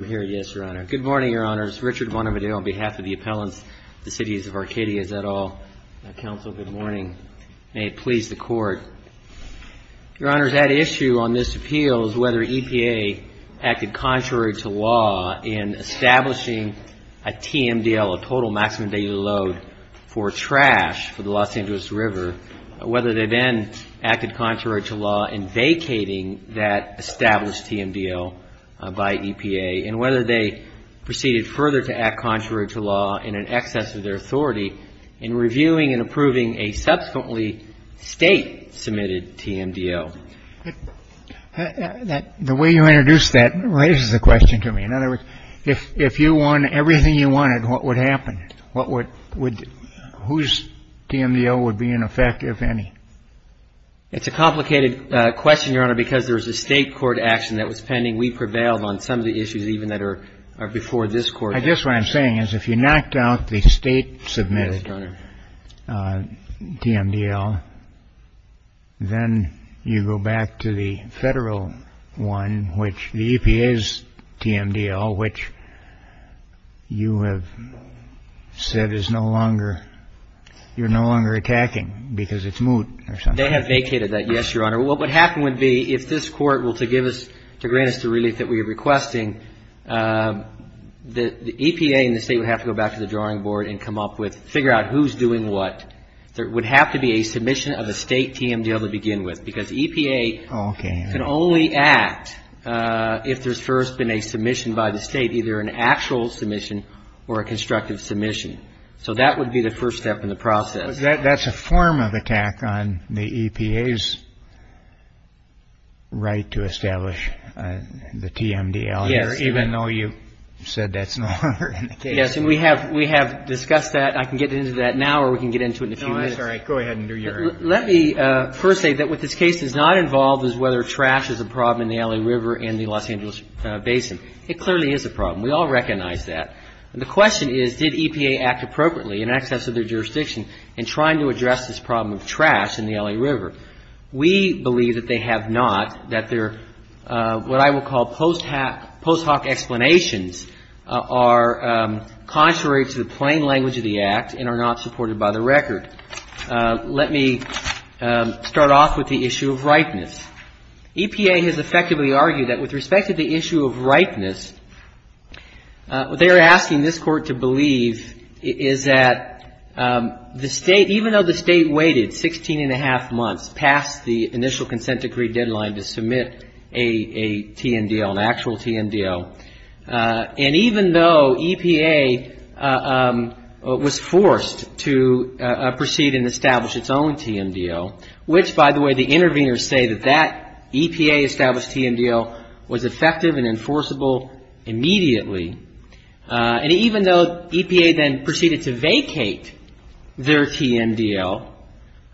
Good morning, Your Honor. This is Richard Bonovideau on behalf of the appellant to the CITIES OF ARCADIA, is that all? Counsel, good morning. May it please the Court. Your Honor, that issue on this appeal is whether EPA acted contrary to law in establishing a TMDL, a total maximum daily load for trash for the Los Angeles River, whether they then acted contrary to law in vacating that established TMDL by EPA, and whether they proceeded further to act contrary to law in an excess of their authority in reviewing and approving a subsequently state-submitted TMDL. The way you introduced that raises a question to me. In other words, if you won everything you wanted, what would happen? Whose TMDL would be in effect, if any? It's a complicated question, Your Honor, because there is a state court action that was pending. We prevailed on some of the issues even that are before this Court. I guess what I'm saying is, if you knocked out the state-submitted TMDL, then you go back to the federal one, which the EPA's TMDL, which you have said is no longer, you're no longer attacking because it's moot or something. They have vacated that, yes, Your Honor. What would happen would be, if this Court were to grant us the relief that we're requesting, the EPA and the state would have to go back to the drawing board and figure out who's doing what. There would have to be a submission of the state TMDL to begin with, because EPA can only act if there's first been a submission by the state, either an actual submission or a constructed submission. So that would be the first step in the process. That's a form of attack on the EPA's right to establish the TMDL, even though you said that's no longer in the case. Yes, and we have discussed that. I can get into that now or we can get into it in a few minutes. No, that's all right. Go ahead and do your... Let me first say that what this case is not involved is whether trash is a problem in the Alley River and the Los Angeles Basin. It clearly is a problem. We all recognize that. The question is, did EPA act appropriately in access of their jurisdiction in trying to address this problem of trash in the Alley River? We believe that they have not, that their, what I would call post hoc explanations, are contrary to the plain language of the Act and are not supported by the record. Let me start off with the issue of ripeness. EPA has effectively argued that with respect to the issue of ripeness, what they are asking this Court to believe is that the State, even though the State waited 16 1⁄2 months past the initial consent decree deadline to submit a TMDL, an actual TMDL, and even though EPA was forced to proceed and establish its own TMDL, which, by the way, the interveners say that that EPA-established TMDL was effective and enforceable immediately, and even though EPA then proceeded to vacate their TMDL,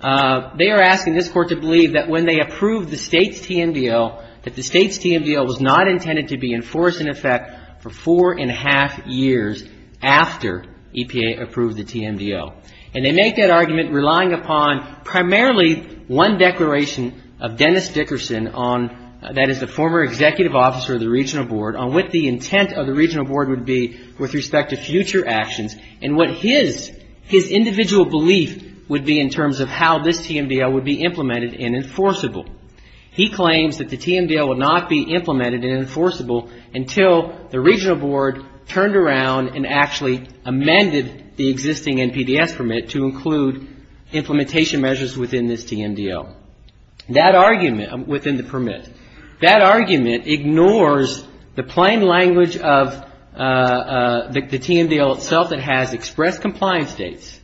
they are asking this Court to believe that when they approved the State's TMDL, that the State's TMDL was not intended to be enforced in effect for 4 1⁄2 years after EPA approved the TMDL. And they make that argument relying upon primarily one declaration of Dennis Dickerson, that is the former executive officer of the Regional Board, on what the intent of the Regional Board would be with respect to future actions and what his individual belief would be in terms of how this TMDL would be implemented and enforceable. He claims that the TMDL would not be implemented and enforceable until the Regional Board turned around and actually amended the existing NPDF permit to include implementation measures within this TMDL, within the permit. That argument ignores the plain language of the TMDL itself that has expressed compliance dates,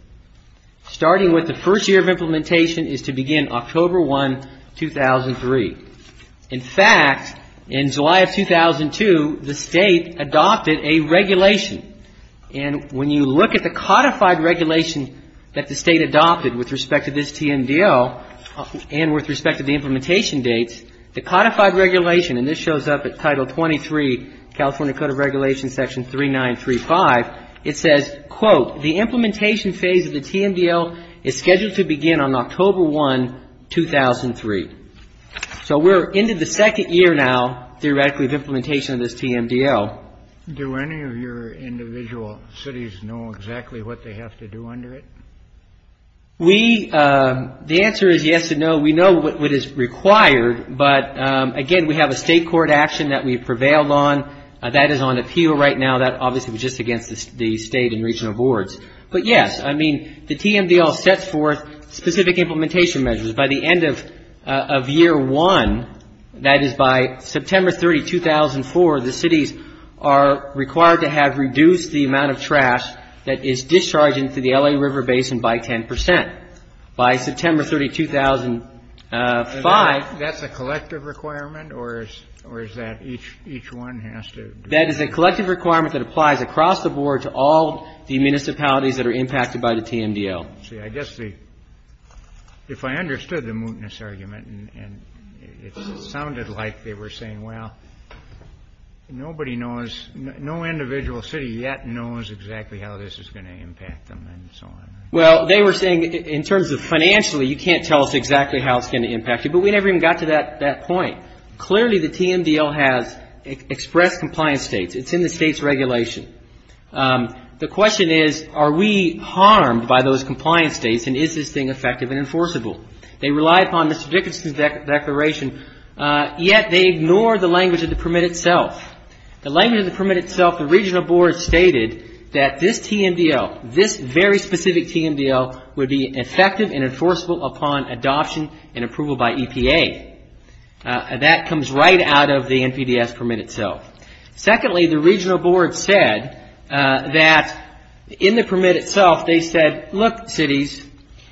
starting with the first year of implementation is to begin October 1, 2003. In fact, in July of 2002, the State adopted a regulation. And when you look at the codified regulation that the State adopted with respect to this TMDL and with respect to the implementation dates, the codified regulation, and this shows up at Title 23, California Code of Regulations, Section 3935, it says, quote, the implementation phase of the TMDL is scheduled to begin on October 1, 2003. So we're into the second year now, theoretically, of implementation of this TMDL. Do any of your individual cities know exactly what they have to do under it? We, the answer is yes and no. We know what is required, but again, we have a state court action that we prevailed on. That is on appeal right now. That obviously was just against the state and regional boards. But yes, I mean, the TMDL sets forth specific implementation measures. By the end of year one, that is by September 3, 2004, the cities are required to have reduced the amount of trash that is discharged into the LA River Basin by 10%. By September 3, 2005. That's a collective requirement, or is that each one has to? That is a collective requirement that applies across the board to all the municipalities that are impacted by the TMDL. See, I guess the, if I understood the mootness argument, and it sounded like they were saying, well, nobody knows, no individual city yet knows exactly how this is going to impact them, and so on. Well, they were saying in terms of financially, you can't tell us exactly how it's going to impact you, but we never even got to that point. Clearly, the TMDL has expressed compliance states. It's in the state's regulation. The question is, are we harmed by those compliance states, and is this thing effective and enforceable? They rely upon Mr. Dickerson's declaration, yet they ignore the language of the permit itself. The language of the permit itself, the regional board stated that this TMDL, this very specific TMDL would be effective and enforceable upon adoption and approval by EPA. That comes right out of the NPDS permit itself. Secondly, the regional board said that in the permit itself, they said, look, cities,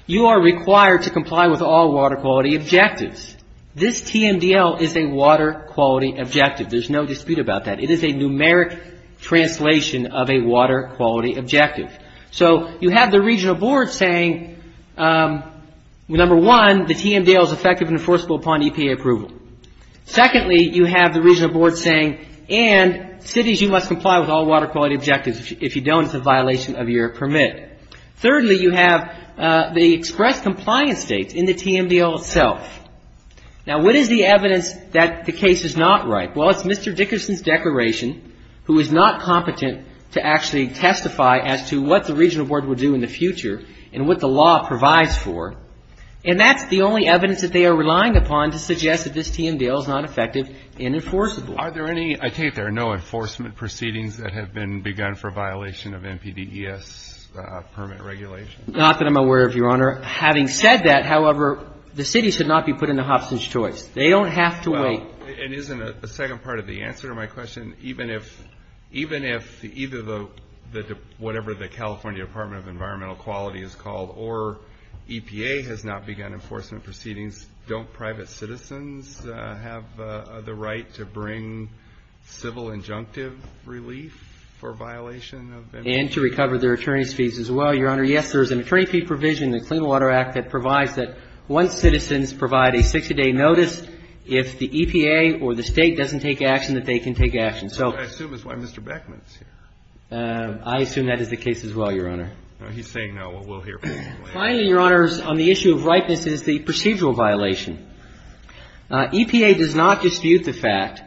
you are required to comply with all water quality objectives. This TMDL is a water quality objective. There's no dispute about that. It is a numeric translation of a water quality objective. So, you have the regional board saying, number one, the TMDL is effective and enforceable upon EPA approval. Secondly, you have the regional board saying, and cities, you must comply with all water quality objectives. If you don't, it's a violation of your permit. Thirdly, you have the expressed compliance states in the TMDL itself. Now, what is the evidence that the case is not right? Well, it's Mr. Dickerson's declaration, who is not competent to actually testify as to what the regional board will do in the future and what the law provides for. And that's the only evidence that they are relying upon to suggest that this TMDL is not effective and enforceable. Are there any, I take it there are no enforcement proceedings that have been begun for violation of NPDES permit regulations? Not that I'm aware of, Your Honor. Having said that, however, the city should not be put into Hobson's Choice. They don't have to wait. It isn't a second part of the answer to my question. Even if either the, whatever the California Department of Environmental Quality is called, or EPA has not begun enforcement proceedings, don't private citizens have the right to bring civil injunctive relief for violation? And to recover their attorney's fees as well, Your Honor. Yes, there is an attorney fee provision in the Clean Water Act that provides that once citizens provide a 60-day notice, if the EPA or the State doesn't take action, that they can take action. I assume that's why Mr. Beckman is here. I assume that is the case as well, Your Honor. He's saying no, but we'll hear from him later. Finally, Your Honors, on the issue of ripeness is the procedural violation. EPA does not dispute the fact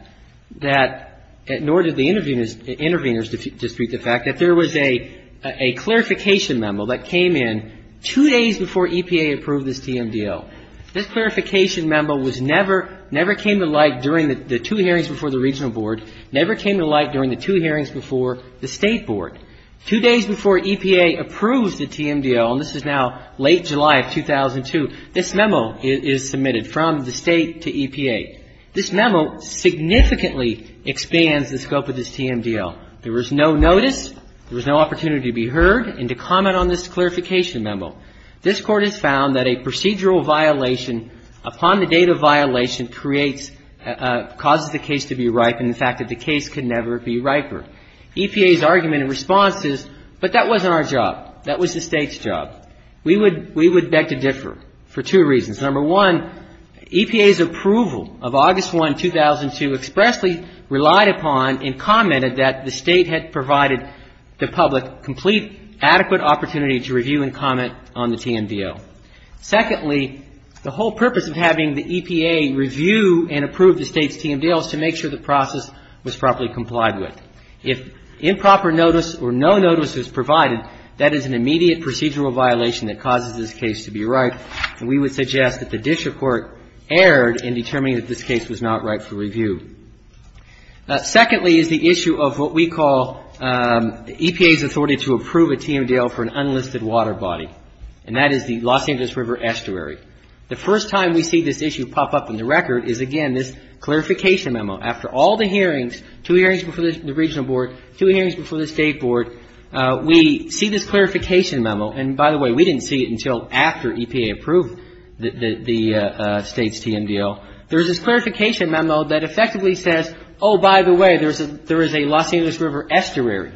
that, nor did the interveners dispute the fact, that there was a clarification memo that came in two days before EPA approved this TMDL. This clarification memo was never, never came to light during the two hearings before the Regional Board, never came to light during the two hearings before the State Board. Two days before EPA approved the TMDL, and this is now late July of 2002, this memo is submitted from the State to EPA. This memo significantly expands the scope of this TMDL. There was no notice, there was no opportunity to be heard, and to comment on this clarification memo. This Court has found that a procedural violation upon the date of violation creates, causes the case to be ripe and the fact that the case can never be riper. EPA's argument in response is, but that wasn't our job. That was the State's job. We would beg to differ for two reasons. Number one, EPA's approval of August 1, 2002, expressly relied upon and commented that the State had provided the public complete, adequate opportunity to review and comment on the TMDL. Secondly, the whole purpose of having the EPA review and approve the State's TMDL is to make sure the process was properly complied with. If improper notice or no notice is provided, that is an immediate procedural violation that causes this case to be ripe, and we would suggest that the District Court erred in determining that this case was not ripe for review. Secondly is the issue of what we call EPA's authority to approve a TMDL for an unlisted water body, and that is the Los Angeles River Estuary. The first time we see this issue pop up in the record is, again, this clarification memo. After all the hearings, two hearings before the Regional Board, two hearings before the State Board, we see this clarification memo, and by the way, we didn't see it until after EPA approved the State's TMDL. There is this clarification memo that effectively says, oh, by the way, there is a Los Angeles River Estuary.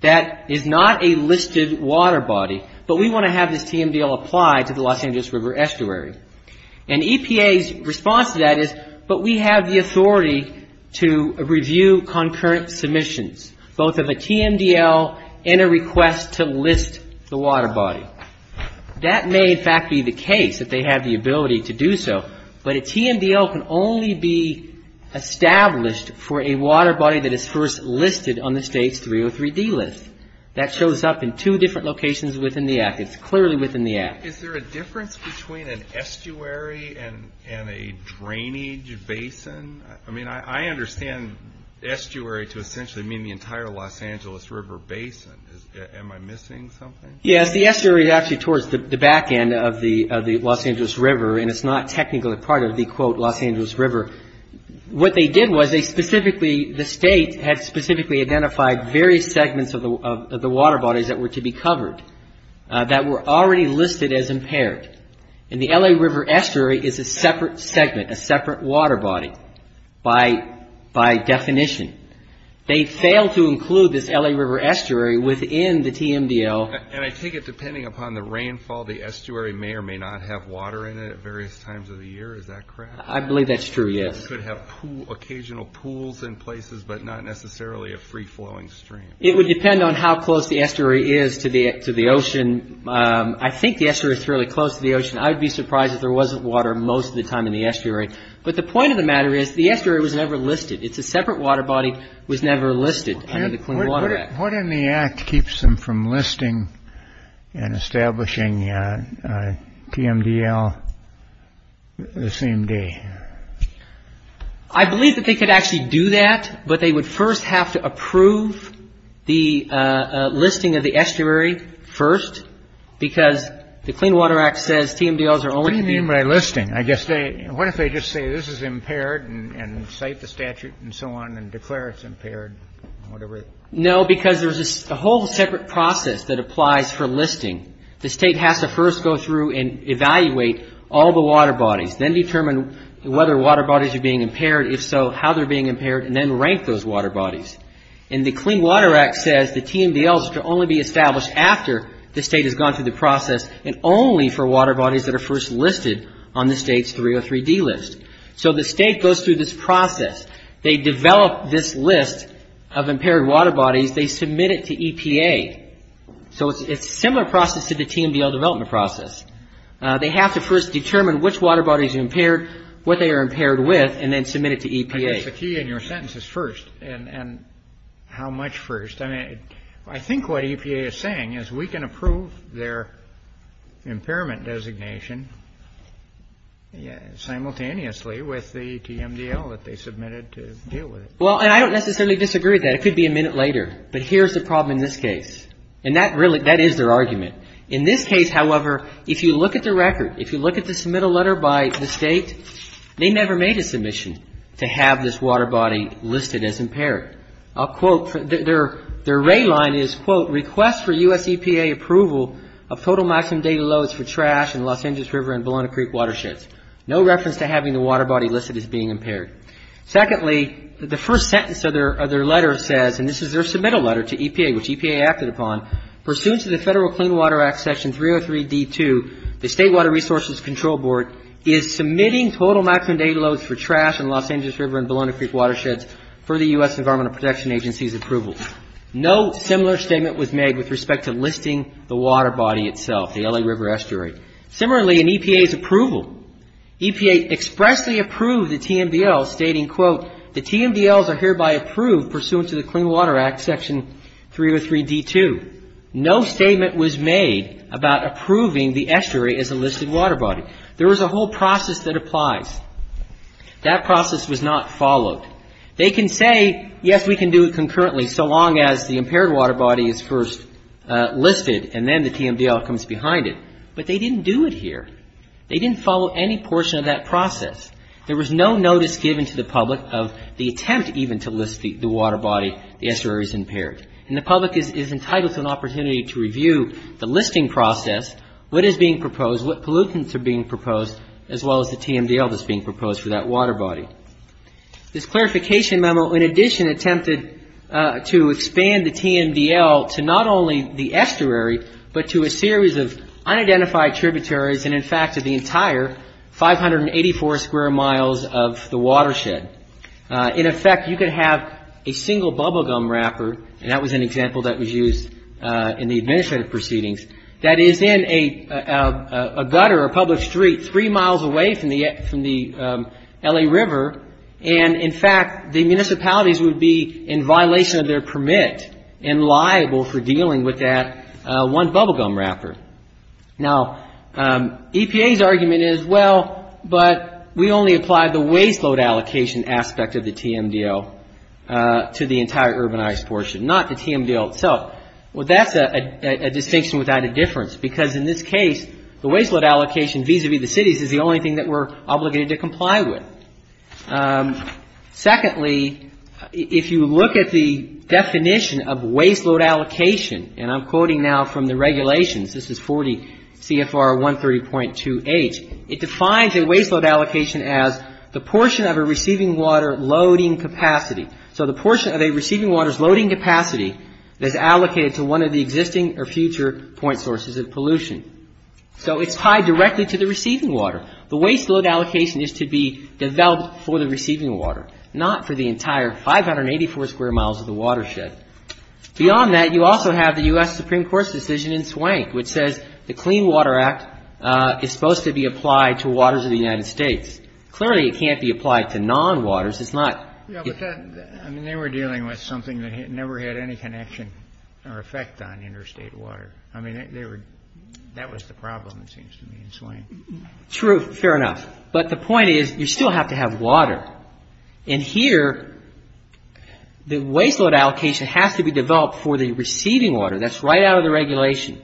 That is not a listed water body, but we want to have this TMDL applied to the Los Angeles River Estuary. And EPA's response to that is, but we have the authority to review concurrent submissions, both of a TMDL and a request to list the water body. That may, in fact, be the case if they have the ability to do so, but a TMDL can only be established for a water body that is first listed on the State's 303D list. That shows up in two different locations within the Act. It's clearly within the Act. Is there a difference between an estuary and a drainage basin? I mean, I understand estuary to essentially mean the entire Los Angeles River Basin. Am I missing something? Yeah, the estuary is actually towards the back end of the Los Angeles River, and it's not technically part of the, quote, Los Angeles River. What they did was they specifically, the State had specifically identified various segments of the water bodies that were to be covered that were already listed as impaired. And the LA River Estuary is a separate segment, a separate water body by definition. They failed to include this LA River Estuary within the TMDL. And I think it's depending upon the rainfall. The estuary may or may not have water in it at various times of the year. Is that correct? I believe that's true, yes. It could have occasional pools in places, but not necessarily a free-flowing stream. It would depend on how close the estuary is to the ocean. I think the estuary is fairly close to the ocean. I would be surprised if there wasn't water most of the time in the estuary. But the point of the matter is the estuary was never listed. It's a separate water body that was never listed under the Clean Water Act. What in the act keeps them from listing and establishing TMDL the same day? I believe that they could actually do that, but they would first have to approve the listing of the estuary first, because the Clean Water Act says TMDLs are only to be... What do you mean by listing? What if they just say this is impaired and cite the statute and so on and declare it's impaired? No, because there's a whole separate process that applies for listing. The state has to first go through and evaluate all the water bodies, then determine whether water bodies are being impaired. If so, how they're being impaired, and then rank those water bodies. And the Clean Water Act says the TMDLs are to only be established after the state has gone through the process and only for water bodies that are first listed on the state's 303D list. So the state goes through this process. They develop this list of impaired water bodies. They submit it to EPA. So it's a similar process to the TMDL development process. They have to first determine which water body is impaired, what they are impaired with, and then submit it to EPA. I guess a few in your sentence is first, and how much first. I think what EPA is saying is we can approve their impairment designation simultaneously with the TMDL that they submitted to deal with it. Well, and I don't necessarily disagree with that. It could be a minute later. But here's the problem in this case. And that is their argument. In this case, however, if you look at the record, if you look at the submittal letter by the state, their array line is, quote, Request for U.S. EPA approval of total micron data loads for trash in Los Angeles River and Bologna Creek watersheds. No reference to having the water body listed as being impaired. Secondly, the first sentence of their letter says, and this is their submittal letter to EPA, which EPA acted upon, Pursuant to the Federal Clean Water Act Section 303D-2, the State Water Resources Control Board is submitting total micron data loads for trash in Los Angeles River and Bologna Creek watersheds for the U.S. Environmental Protection Agency's approval. No similar statement was made with respect to listing the water body itself, the LA River estuary. Similarly, in EPA's approval, EPA expressly approved the TMDL stating, quote, The TMDLs are hereby approved pursuant to the Clean Water Act Section 303D-2. No statement was made about approving the estuary as a listed water body. There is a whole process that applies. That process was not followed. They can say, yes, we can do it concurrently so long as the impaired water body is first listed and then the TMDL comes behind it. But they didn't do it here. They didn't follow any portion of that process. There was no notice given to the public of the attempt even to list the water body, the estuary as impaired. And the public is entitled to an opportunity to review the listing process, what is being proposed, what pollutants are being proposed, as well as the TMDL that's being proposed for that water body. This clarification memo, in addition, attempted to expand the TMDL to not only the estuary but to a series of unidentified tributaries and, in fact, to the entire 584 square miles of the watershed. In effect, you can have a single bubble gum wrapper, and that was an example that was used in the administrative proceedings, that is in a gutter or public street three miles away from the LA River, and, in fact, the municipalities would be in violation of their permit and liable for dealing with that one bubble gum wrapper. Now, EPA's argument is, well, but we only apply the waste load allocation aspect of the TMDL to the entire urbanized portion, not the TMDL itself. Well, that's a distinction without a difference because, in this case, the waste load allocation vis-a-vis the cities is the only thing that we're obligated to comply with. Secondly, if you look at the definition of waste load allocation, and I'm quoting now from the regulations, this is 40 CFR 130.28, it defines a waste load allocation as the portion of a receiving water loading capacity. So, the portion of a receiving water's loading capacity is allocated to one of the existing or future point sources of pollution. So, it's tied directly to the receiving water. The waste load allocation is to be developed for the receiving water, not for the entire 584 square miles of the watershed. Beyond that, you also have the U.S. Supreme Court's decision in Swank which says the Clean Water Act is supposed to be applied to waters of the United States. Clearly, it can't be applied to non-waters, it's not... Yeah, but they were dealing with something that never had any connection or effect on interstate water. I mean, that was the problem it seems to me in Swank. True, fair enough. But the point is, you still have to have water. And here, the waste load allocation has to be developed for the receiving water. That's right out of the regulation.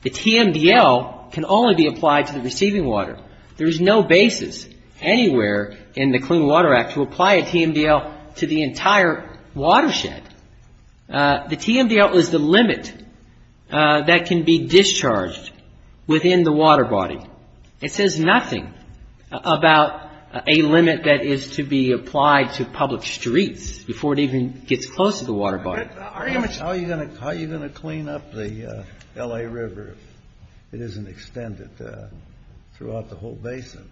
The TMDL can only be applied to the receiving water. There's no basis anywhere in the Clean Water Act to apply a TMDL to the entire watershed. The TMDL is the limit that can be discharged within the water body. It says nothing about a limit that is to be applied to public streets before it even gets close to the water body. How are you going to clean up the L.A. River if it isn't extended throughout the whole basin?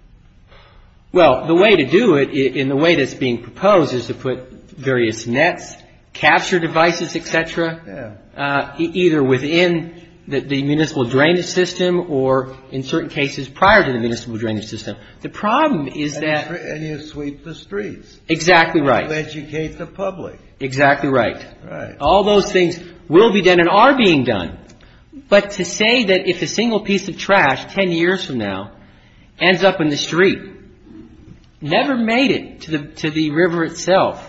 Well, the way to do it and the way that it's being proposed is to put various nets, capture devices, etc. either within the municipal drainage system or in certain cases prior to the municipal drainage system. The problem is that... And you sweep the streets. Exactly right. To educate the public. Exactly right. All those things will be done and are being done. But to say that if a single piece of trash, 10 years from now, ends up in the street, never made it to the river itself,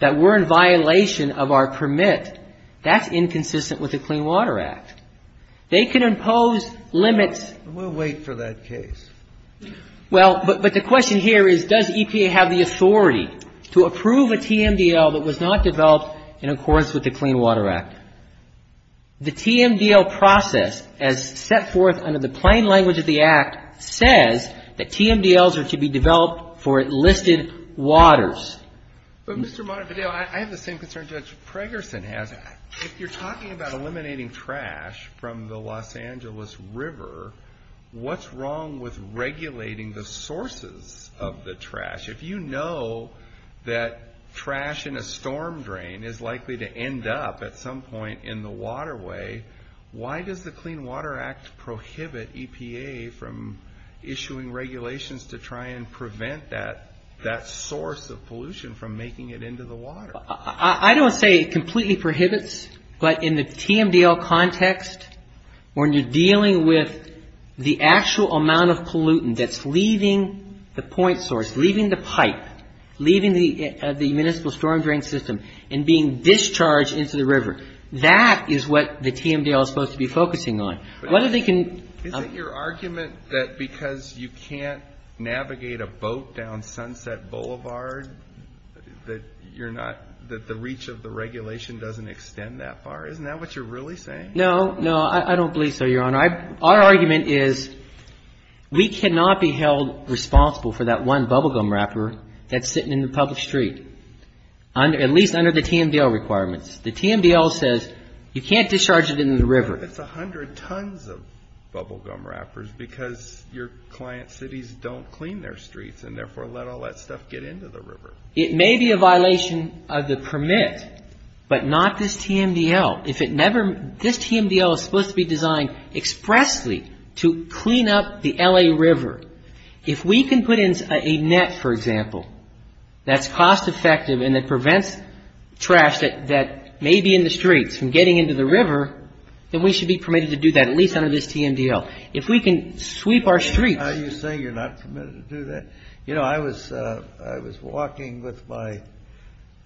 that we're in violation of our permit, that's inconsistent with the Clean Water Act. They can impose limits... We'll wait for that case. Well, but the question here is does EPA have the authority to approve a TMDL that was not developed in accordance with the Clean Water Act? The TMDL process, as set forth under the plain language of the Act, says that TMDLs are to be developed for listed waters. But, Mr. Montevideo, I have the same concern Judge Craigerson has. If you're talking about eliminating trash from the Los Angeles River, what's wrong with regulating the sources of the trash? If you know that trash in a storm drain is likely to end up at some point in the waterway, why does the Clean Water Act prohibit EPA from issuing regulations to try and prevent that source of pollution from making it into the water? I don't say it completely prohibits, but in the TMDL context, when you're dealing with the actual amount of pollutant that's leaving the point source, leaving the pipe, leaving the municipal storm drain system and being discharged into the river, that is what the TMDL is supposed to be focusing on. Is it your argument that because you can't navigate a boat down Sunset Boulevard that the reach of the regulation doesn't extend that far? Isn't that what you're really saying? No, no, I don't believe so, Your Honor. Our argument is we cannot be held responsible for that one bubble gum wrapper that's sitting in the public street, at least under the TMDL requirements. The TMDL says you can't discharge it into the river. That's 100 tons of bubble gum wrappers because your client cities don't clean their streets and therefore let all that stuff get into the river. It may be a violation of the permit, but not this TMDL. This TMDL is supposed to be designed expressly to clean up the LA River. If we can put in a net, for example, that's cost-effective and that prevents trash that may be in the streets from getting into the river, then we should be permitted to do that, at least under this TMDL. If we can sweep our streets... How do you say you're not permitted to do that? You know, I was walking with my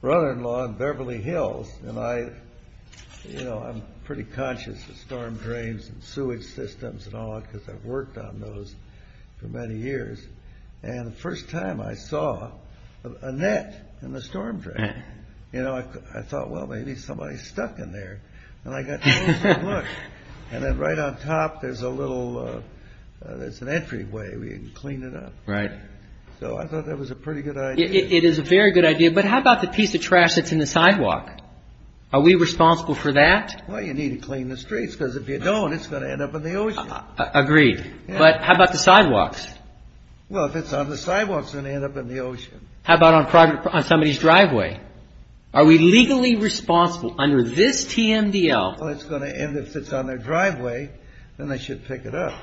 brother-in-law in Beverly Hills and I'm pretty conscious of storm drains and sewage systems and all that because I've worked on those for many years. And the first time I saw a net in a storm drain, I thought, well, maybe somebody's stuck in there. And I got to look and then right on top there's a little... It's an entryway. We can clean it up. So I thought that was a pretty good idea. It is a very good idea. But how about the piece of trash that's in the sidewalk? Are we responsible for that? Well, you need to clean the streets because if you don't, it's going to end up in the ocean. Agreed. But how about the sidewalks? Well, if it's on the sidewalks, it's going to end up in the ocean. How about on somebody's driveway? Are we legally responsible under this TMDL? Well, if it's on their driveway, then they should pick it up.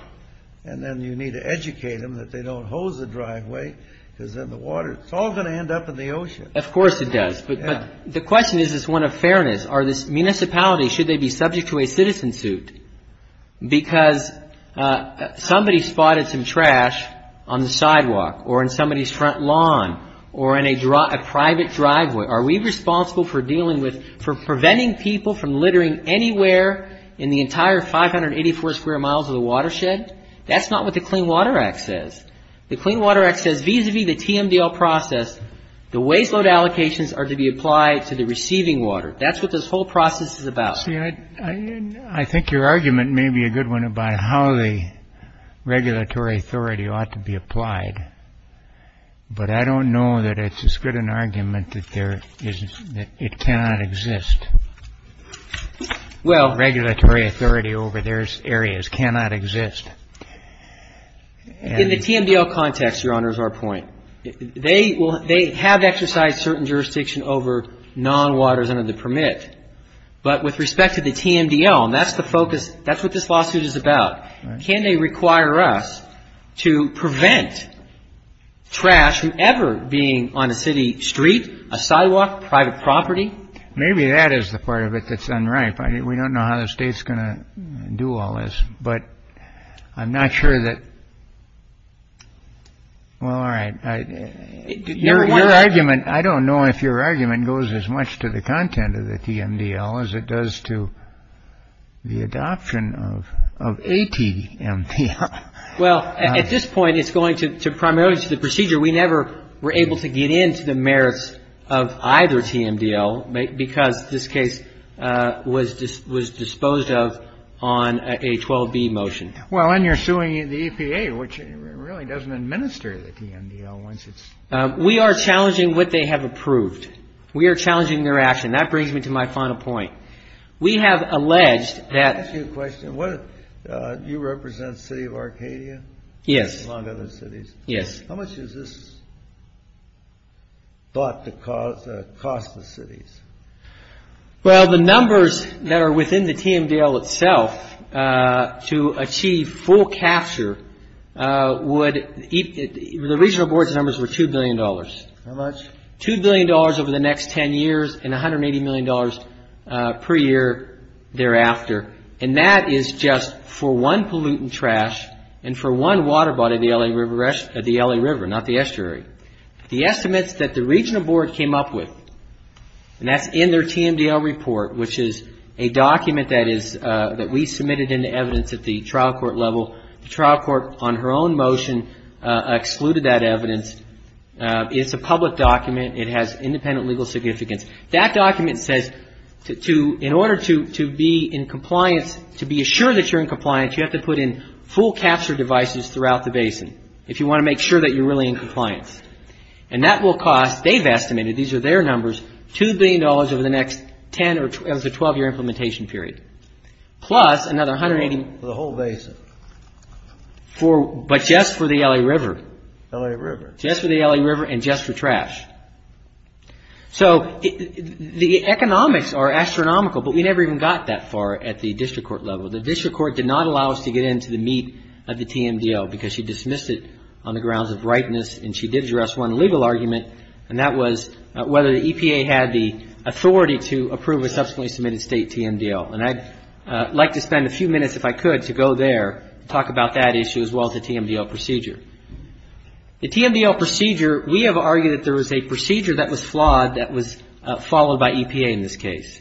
And then you need to educate them that they don't hose the driveway because then the water, it's all going to end up in the ocean. Of course it does. But the question is this one of fairness. Are these municipalities, should they be subject to a citizen suit? Because somebody spotted some trash on the sidewalk or in somebody's front lawn or in a private driveway. Are we responsible for dealing with, for preventing people from littering anywhere in the entire 584 square miles of the watershed? That's not what the Clean Water Act says. The Clean Water Act says vis-a-vis the TMDL process, the waste load allocations are to be applied to the receiving water. That's what this whole process is about. I think your argument may be a good one about how the regulatory authority ought to be applied. But I don't know that it's as good an argument that it cannot exist. Regulatory authority over those areas cannot exist. In the TMDL context, Your Honor, is our point. They have exercised certain jurisdiction over non-waters under the permit. But with respect to the TMDL, that's the focus, that's what this lawsuit is about. Can they require us to prevent trash from ever being on a city street, a sidewalk, private property? Maybe that is the part of it that's unripe. I mean, we don't know how the state's going to do all this. But I'm not sure that, well, all right, your argument, I don't know if your argument goes as much to the content of the TMDL as it does to the adoption of ATMDL. Well, at this point, it's going to primarily to the procedure. We never were able to get into the merits of either TMDL because this case was disposed of on a 12B motion. Well, and you're suing the EPA, which really doesn't administer the TMDL. We are challenging what they have approved. We are challenging their action. That brings me to my final point. We have alleged that you represent the city of Arcadia? Yes. Yes. How much is this thought to cost the cities? Well, the numbers that are within the TMDL itself, to achieve full capture, the regional board's numbers were $2 billion. How much? $2 billion over the next 10 years and $180 million per year thereafter. And that is just for one pollutant trash and for one water body at the LA River, not the estuary. The estimates that the regional board came up with, and that's in their TMDL report, which is a document that we submitted in the evidence at the trial court level. The trial court on her own motion excluded that evidence. It's a public document. It has independent legal significance. That document says in order to be in compliance, to be assured that you're in compliance, you have to put in full capture devices throughout the basin. If you want to make sure that you're really in compliance. And that will cost, they've estimated, these are their numbers, $2 billion over the next 10 or 12-year implementation period. Plus another $180 million for the whole basin. But just for the LA River. LA River. Just for the LA River and just for trash. So, the economics are astronomical, but we never even got that far at the district court level. The district court did not allow us to get into the meat of the TMDL because she dismissed it on the grounds of rightness, and she did address one legal argument, and that was whether the EPA had the authority to approve a subsequently submitted state TMDL. And I'd like to spend a few minutes, if I could, to go there and talk about that issue as well as the TMDL procedure. The TMDL procedure, we have argued that there was a procedure that was flawed that was followed by EPA in this case.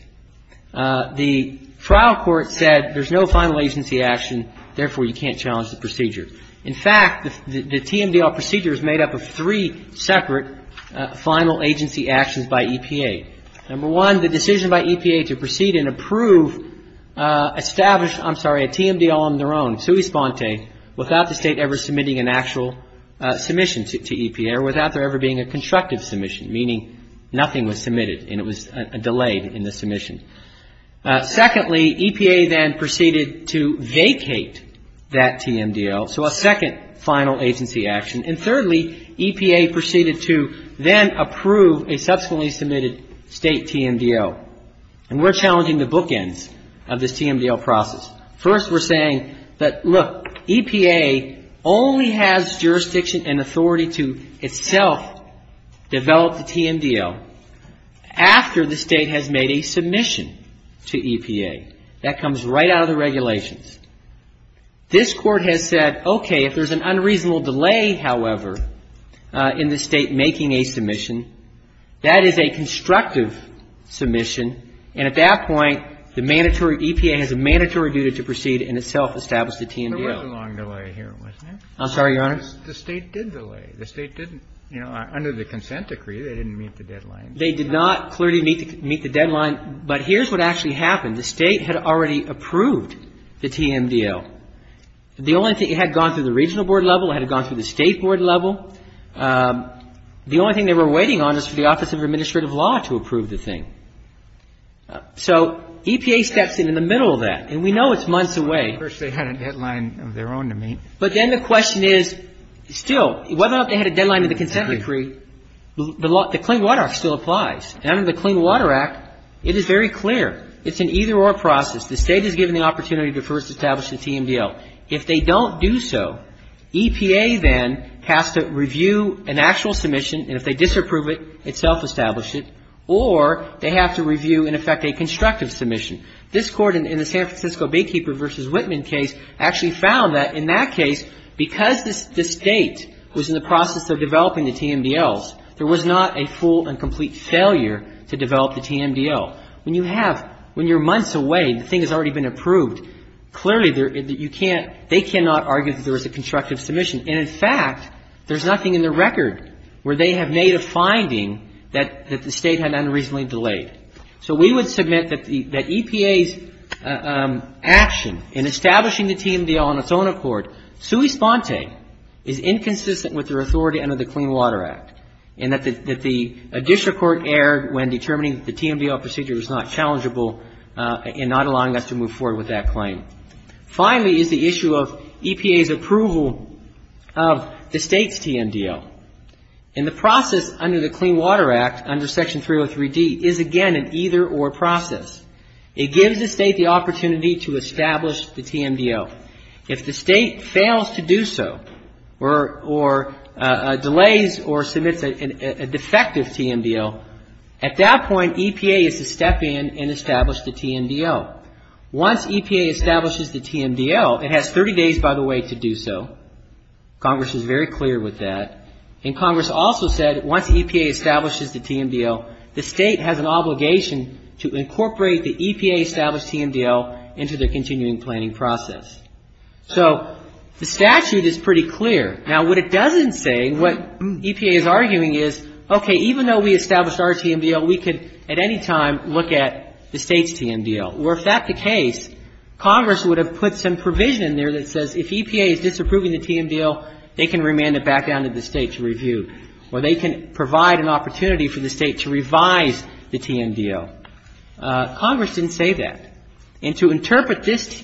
The trial court said there's no final agency action, therefore you can't challenge the procedure. In fact, the TMDL procedure is made up of three separate final agency actions by EPA. Number one, the decision by EPA to proceed and approve established, I'm sorry, a TMDL on their own, sui sponte, without the state ever submitting an actual submission to EPA or without there ever being a constructive submission, meaning nothing was submitted and it was delayed in the submission. Secondly, EPA then proceeded to vacate that TMDL, so a second final agency action. And thirdly, EPA proceeded to then approve a subsequently submitted state TMDL. And we're challenging the bookends of this TMDL process. First, we're saying that, look, EPA only has jurisdiction and authority to itself develop the TMDL after the state has made a submission to EPA. That comes right out of the regulations. This court has said, okay, if there's an unreasonable delay, however, in the state making a submission, that is a constructive submission, and at that point the EPA has a mandatory duty to proceed and itself establish the TMDL. There was a long delay here, wasn't there? I'm sorry, Your Honor? The state did delay. The state did, you know, under the consent decree, they didn't meet the deadline. They did not clearly meet the deadline, but here's what actually happened. The state had already approved the TMDL. The only thing, it had gone through the regional board level, it had gone through the state board level. The only thing they were waiting on is for the Office of Administrative Law to approve the thing. So EPA stepped in in the middle of that, and we know it's months away. First they had a deadline of their own to meet. But then the question is, still, whether or not they had a deadline in the consent decree, the Clean Water Act still applies. Under the Clean Water Act, it is very clear. It's an either-or process. The state is given the opportunity to first establish the TMDL. If they don't do so, EPA then has to review an actual submission, and if they disapprove it, itself establish it, or they have to review, in effect, a constructive submission. This court, in the San Francisco Baykeeper v. Whitman case, actually found that, in that case, because the state was in the process of developing the TMDLs, there was not a full and complete failure to develop the TMDL. When you're months away, the thing has already been approved. Clearly, they cannot argue that there was a constructive submission. And, in fact, there's nothing in the record where they have made a finding that the state had unreasonably delayed. So, we would submit that EPA's action in establishing the TMDL on its own accord, sui sponse, is inconsistent with their authority under the Clean Water Act, and that the district court erred when determining that the TMDL procedure was not challengeable in not allowing us to move forward with that claim. Finally, is the issue of EPA's approval of the state's TMDL. And the process under the Clean Water Act, under Section 303D, is, again, an either-or process. It gives the state the opportunity to establish the TMDL. If the state fails to do so, or delays or submits a defective TMDL, at that point, EPA is to step in and establish the TMDL. Once EPA establishes the TMDL, it has 30 days, by the way, to do so. Congress is very clear with that. And Congress also said, once EPA establishes the TMDL, the state has an obligation to incorporate the EPA-established TMDL into the continuing planning process. So, the statute is pretty clear. Now, what it doesn't say, what EPA is arguing is, okay, even though we established our TMDL, we could, at any time, look at the state's TMDL. Or, if that's the case, Congress would have put some provision in there that says, If EPA is disapproving the TMDL, they can remand it back down to the state to review. Or they can provide an opportunity for the state to revise the TMDL. Congress didn't say that. And to interpret this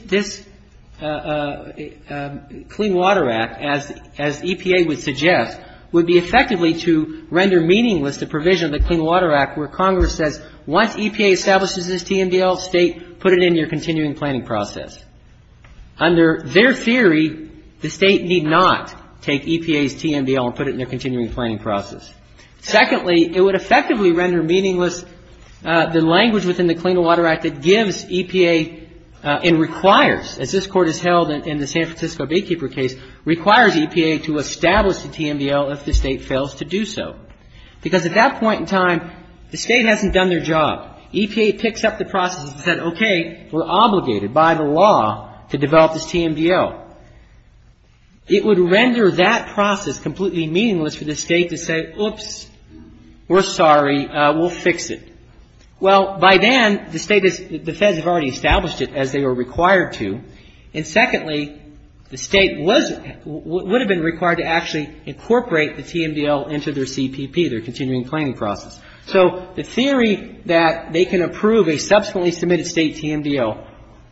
Clean Water Act, as EPA would suggest, would be effectively to render meaningless the provision of the Clean Water Act, where Congress says, once EPA establishes this TMDL, state, put it in your continuing planning process. Under their theory, the state need not take EPA's TMDL and put it in their continuing planning process. Secondly, it would effectively render meaningless the language within the Clean Water Act that gives EPA and requires, as this Court has held in the San Francisco Baykeeper case, requires EPA to establish the TMDL if the state fails to do so. Because at that point in time, the state hasn't done their job. EPA picks up the process and says, OK, we're obligated by the law to develop this TMDL. It would render that process completely meaningless for the state to say, Oops, we're sorry, we'll fix it. Well, by then, the state has already established it as they were required to. And secondly, the state would have been required to actually incorporate the TMDL into their CPP, their continuing planning process. So the theory that they can approve a subsequently submitted state TMDL,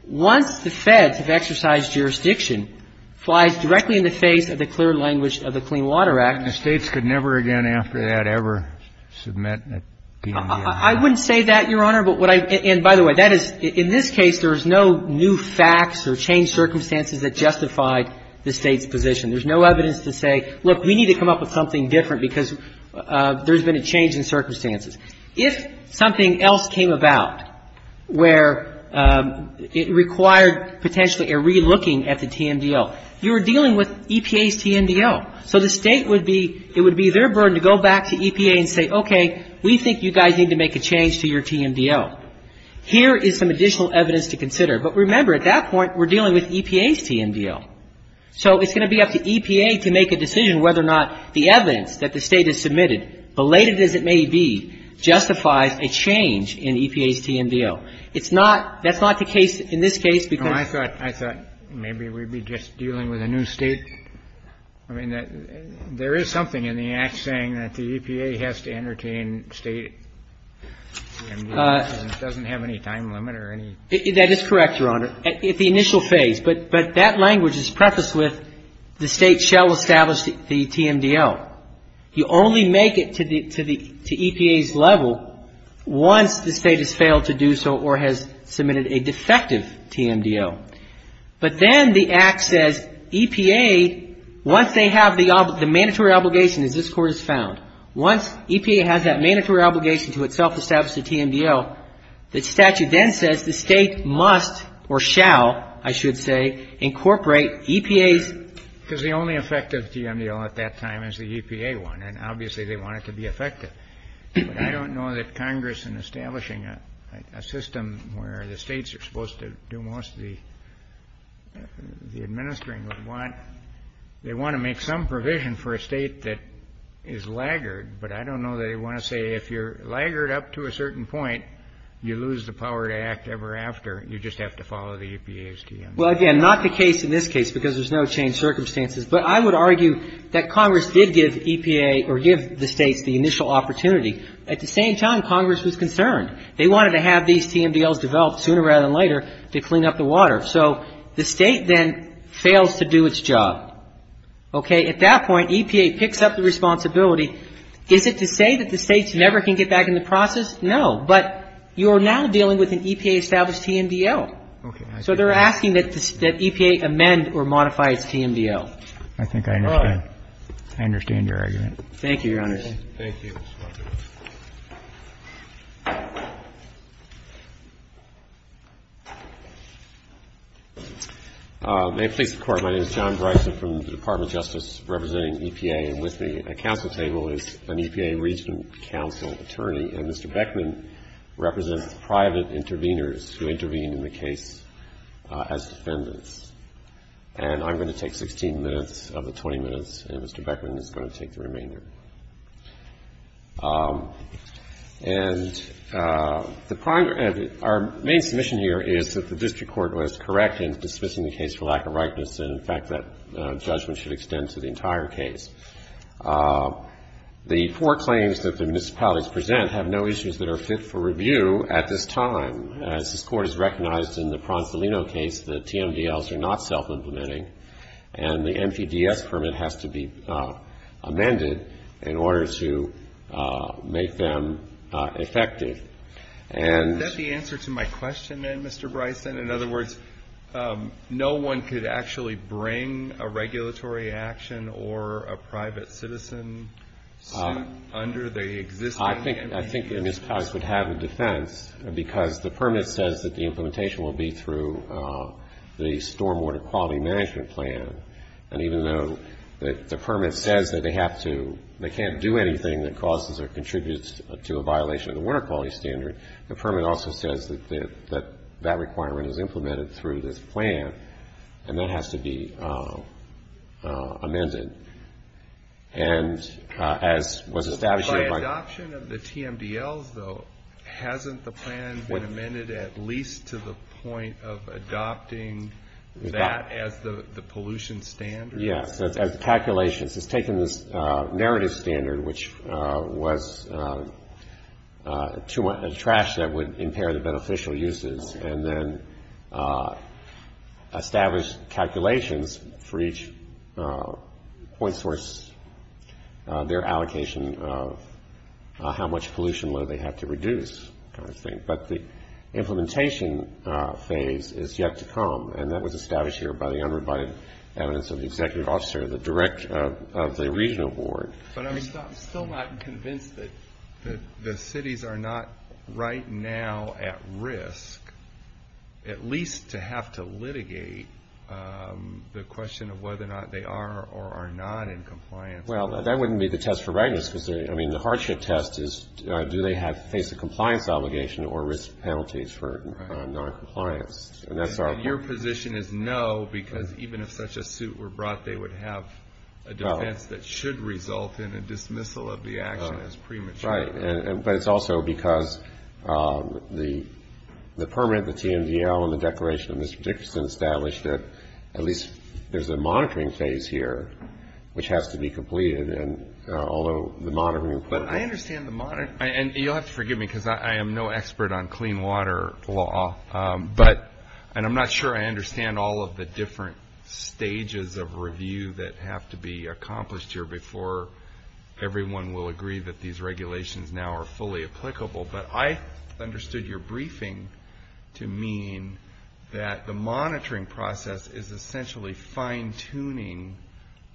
once the feds have exercised jurisdiction, flies directly in the face of the clear language of the Clean Water Act. And the states could never again after that ever submit that TMDL. I wouldn't say that, Your Honor. And by the way, that is, in this case, there is no new facts or changed circumstances that justified the state's position. There's no evidence to say, look, we need to come up with something different because there's been a change in circumstances. If something else came about where it required potentially a re-looking at the TMDL, you're dealing with EPA's TMDL. So the state would be, it would be their burden to go back to EPA and say, OK, we think you guys need to make a change to your TMDL. Here is some additional evidence to consider. But remember, at that point, we're dealing with EPA's TMDL. So it's going to be up to EPA to make a decision whether or not the evidence that the state has submitted, belated as it may be, justifies a change in EPA's TMDL. It's not, that's not the case in this case because- I thought, I thought maybe we'd be just dealing with a new state. I mean, there is something in the act saying that the EPA has to entertain state, and it doesn't have any time limit or any- That is correct, Your Honor. At the initial phase. But that language is prefaced with the state shall establish the TMDL. You only make it to the EPA's level once the state has failed to do so or has submitted a defective TMDL. But then the act says EPA, once they have the mandatory obligation as this Court has found, once EPA has that mandatory obligation to itself establish the TMDL, the statute then says the state must or shall, I should say, incorporate EPA's- Because the only effective TMDL at that time is the EPA one, and obviously they want it to be effective. I don't know that Congress in establishing a system where the states are supposed to do most of the administering would want, they want to make some provision for a state that is laggard, but I don't know that they want to say if you're laggard up to a certain point, you lose the power to act ever after. You just have to follow the EPA's TMDL. Well, again, not the case in this case because there's no changed circumstances, but I would argue that Congress did give EPA or give the state the initial opportunity. At the same time, Congress was concerned. They wanted to have these TMDLs developed sooner rather than later to clean up the water. So, the state then fails to do its job. At that point, EPA picks up the responsibility. Is it to say that the states never can get back in the process? No, but you're now dealing with an EPA-established TMDL. So, they're asking that EPA amend or modify its TMDL. I think I understand. I understand your argument. Thank you, Your Honor. Thank you. Thank you. May it please the Court, my name is John Bryson from the Department of Justice representing EPA, and with me at the counsel table is an EPA Regional Counsel Attorney, and Mr. Beckman represents private intervenors who intervene in the case as defendants. And I'm going to take 16 minutes of the 20 minutes, and Mr. Beckman is going to take the remainder. And our main commission here is that the district court was correct in dismissing the case for lack of rightness, and, in fact, that judgment should extend to the entire case. The four claims that the municipalities present have no issues that are fit for review at this time. As this Court has recognized in the Pronsolino case, the TMDLs are not self-implementing, and the MTDS permit has to be amended in order to make them effective. Is that the answer to my question, then, Mr. Bryson? In other words, no one could actually bring a regulatory action or a private citizen under the existing? I think the municipalities would have a defense, because the permit says that the implementation will be through the stormwater quality management plan, and even though the permit says that they have to, they can't do anything that causes or contributes to a violation of the water quality standard, the permit also says that that requirement is implemented through this plan, and that has to be amended. By adoption of the TMDLs, though, hasn't the plan been amended at least to the point of adopting that as the pollution standard? Yes, as calculations. It's taken the narrative standard, which was trash that would impair the beneficial uses, and then established calculations for each point source, their allocation of how much pollution would they have to reduce, I think. But the implementation phase is yet to come, and that was established here by the evidence of the executive officer of the regional board. But I'm still not convinced that the cities are not right now at risk, at least to have to litigate the question of whether or not they are or are not in compliance. Well, that wouldn't be the test for readiness, because the hardship test is do they face a compliance obligation or risk penalties for noncompliance. Your position is no, because even if such a suit were brought, they would have a defense that should result in a dismissal of the action as premature. Right. But it's also because the permit, the TMDL, and the declaration of Mr. Dixon established that at least there's a monitoring phase here which has to be completed, and although the monitoring. But I understand the monitoring, and you'll have to forgive me because I am no expert on clean water law, and I'm not sure I understand all of the different stages of review that have to be accomplished here before everyone will agree that these regulations now are fully applicable. But I understood your briefing to mean that the monitoring process is essentially fine-tuning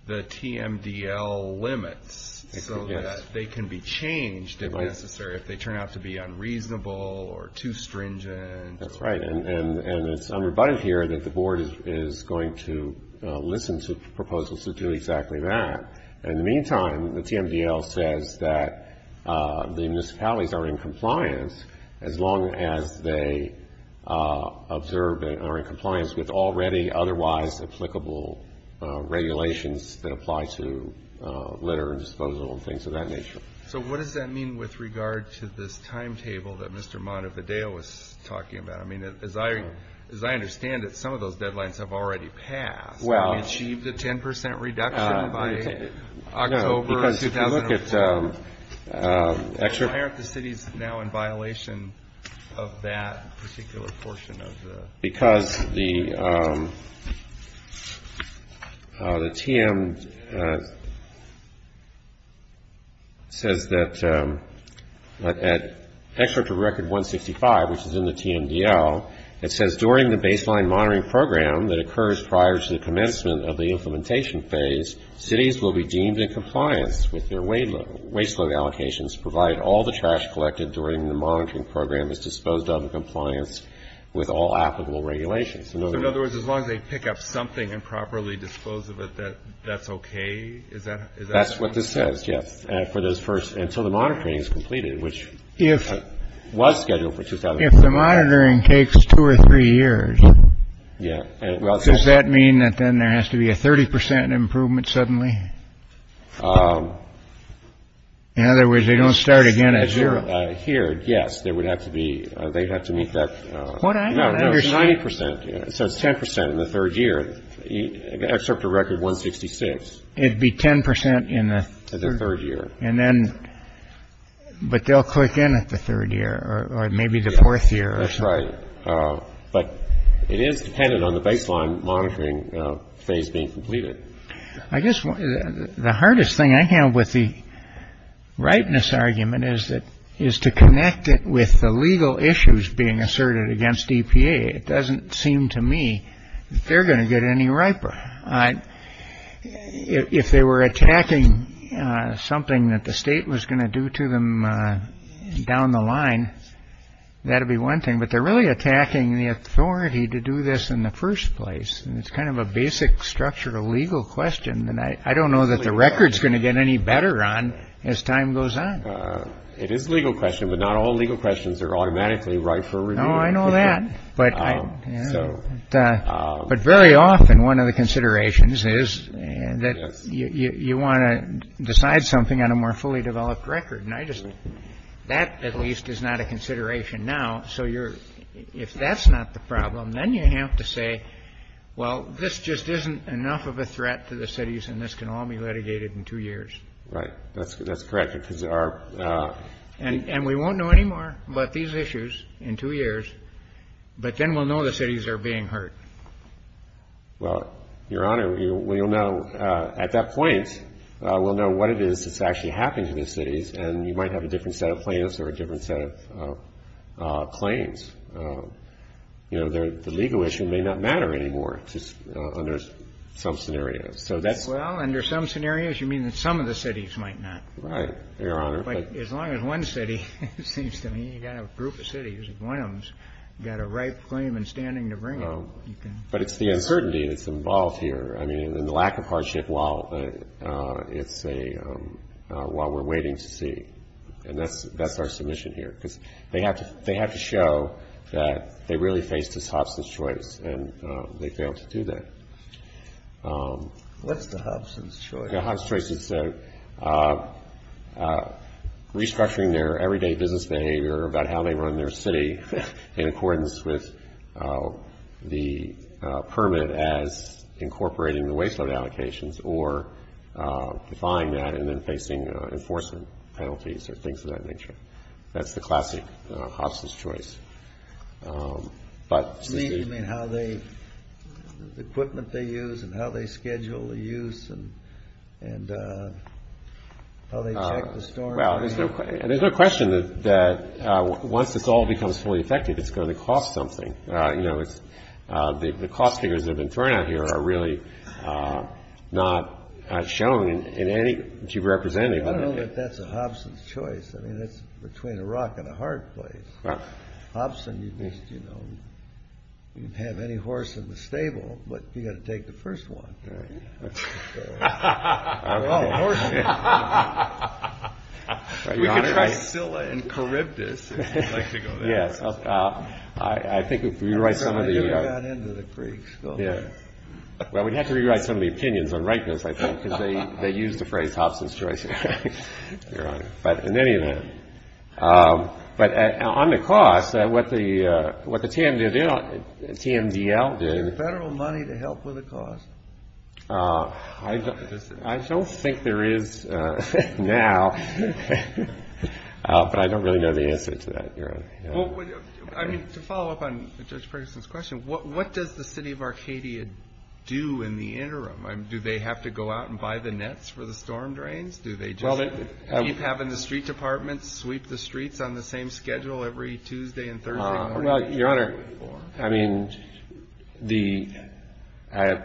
the TMDL limits so that they can be changed if necessary, if they turn out to be unreasonable or too stringent. That's right. And it's unrebutted here that the Board is going to listen to proposals to do exactly that. In the meantime, the TMDL says that the municipalities are in compliance as long as they observe that they are in compliance with already otherwise applicable regulations that apply to litter and disposal and things of that nature. So what does that mean with regard to this timetable that Mr. Montevideo was talking about? I mean, as I understand it, some of those deadlines have already passed. Well. Achieved a 10 percent reduction by October of 2001. No, because if you look at extra – because the TMDL says that – at Excerpt of Record 165, which is in the TMDL, it says, During the baseline monitoring program that occurs prior to the commencement of the implementation phase, cities will be deemed in compliance with their waste load allocations to provide all the trash collected during the monitoring program is disposed of in compliance with all applicable regulations. In other words, as long as they pick up something and properly dispose of it, that's okay? That's what this says, yes. And so the monitoring is completed, which was scheduled for – If the monitoring takes two or three years, does that mean that then there has to be a 30 percent improvement suddenly? In other words, they don't start again at zero. Here, yes. They would have to be – they have to meet that – What I understand – No, no, 30 percent. It says 10 percent in the third year. Excerpt of Record 166. It'd be 10 percent in the – In the third year. And then – but they'll click in at the third year, or maybe the fourth year. That's right. But it is dependent on the baseline monitoring phase being completed. I guess the hardest thing I have with the ripeness argument is to connect it with the legal issues being asserted against EPA. It doesn't seem to me that they're going to get any riper. If they were attacking something that the state was going to do to them down the line, that would be one thing. But they're really attacking the authority to do this in the first place. And it's kind of a basic structural legal question. And I don't know that the record's going to get any better on as time goes on. It is a legal question, but not all legal questions are automatically right for review. Oh, I know that. But very often, one of the considerations is that you want to decide something on a more fully developed record. And I just – that, at least, is not a consideration now. So if that's not the problem, then you have to say, well, this just isn't enough of a threat to the cities, and this can all be litigated in two years. Right. That's correct. And we won't know anymore about these issues in two years, but then we'll know the cities are being hurt. Well, Your Honor, we will know at that point. We'll know what it is that's actually happening to the cities. And you might have a different set of plans or a different set of claims. The legal issue may not matter anymore under some scenarios. Well, under some scenarios, you mean that some of the cities might not. Right, Your Honor. But as long as one city, it seems to me, you've got a group of cities, one of them's got a right claim in standing to bring it. But it's the uncertainty that's involved here. I mean, and the lack of hardship while we're waiting to see. And that's our submission here. They have to show that they really faced this Hobson's Choice, and they failed to do that. Hobson's Choice is restructuring their everyday business behavior about how they run their city in accordance with the permit as incorporating the waste load allocations or defying that and then facing enforcement penalties or things of that nature. That's the classic Hobson's Choice. You mean how the equipment they use and how they schedule the use and how they check the storm? There's no question that once this all becomes fully effective, it's going to cost something. The cost figures that have been thrown out here are really not showing in any that you've represented. I don't know that that's a Hobson's Choice. I mean, that's between a rock and a hard place. Hobson, you know, you can have any horse in the stable, but you've got to take the first one. I don't know about horses. You can try stilla and charybdis if you'd like to go there. Yeah. I think if you write some of these. You could run into the creek still. Yeah. Well, we'd have to rewrite some of the opinions and write those, I think, because they use the phrase Hobson's Choice. You're right. But on the cost, what the TMDL did. Is there federal money to help with the cost? I don't think there is now, but I don't really know the answer to that. To follow up on Judge Ferguson's question, what does the city of Arcadia do in the interim? Do they have to go out and buy the nets for the storm drains? Do they just keep having the street department sweep the streets on the same schedule every Tuesday and Thursday? Your Honor, I mean,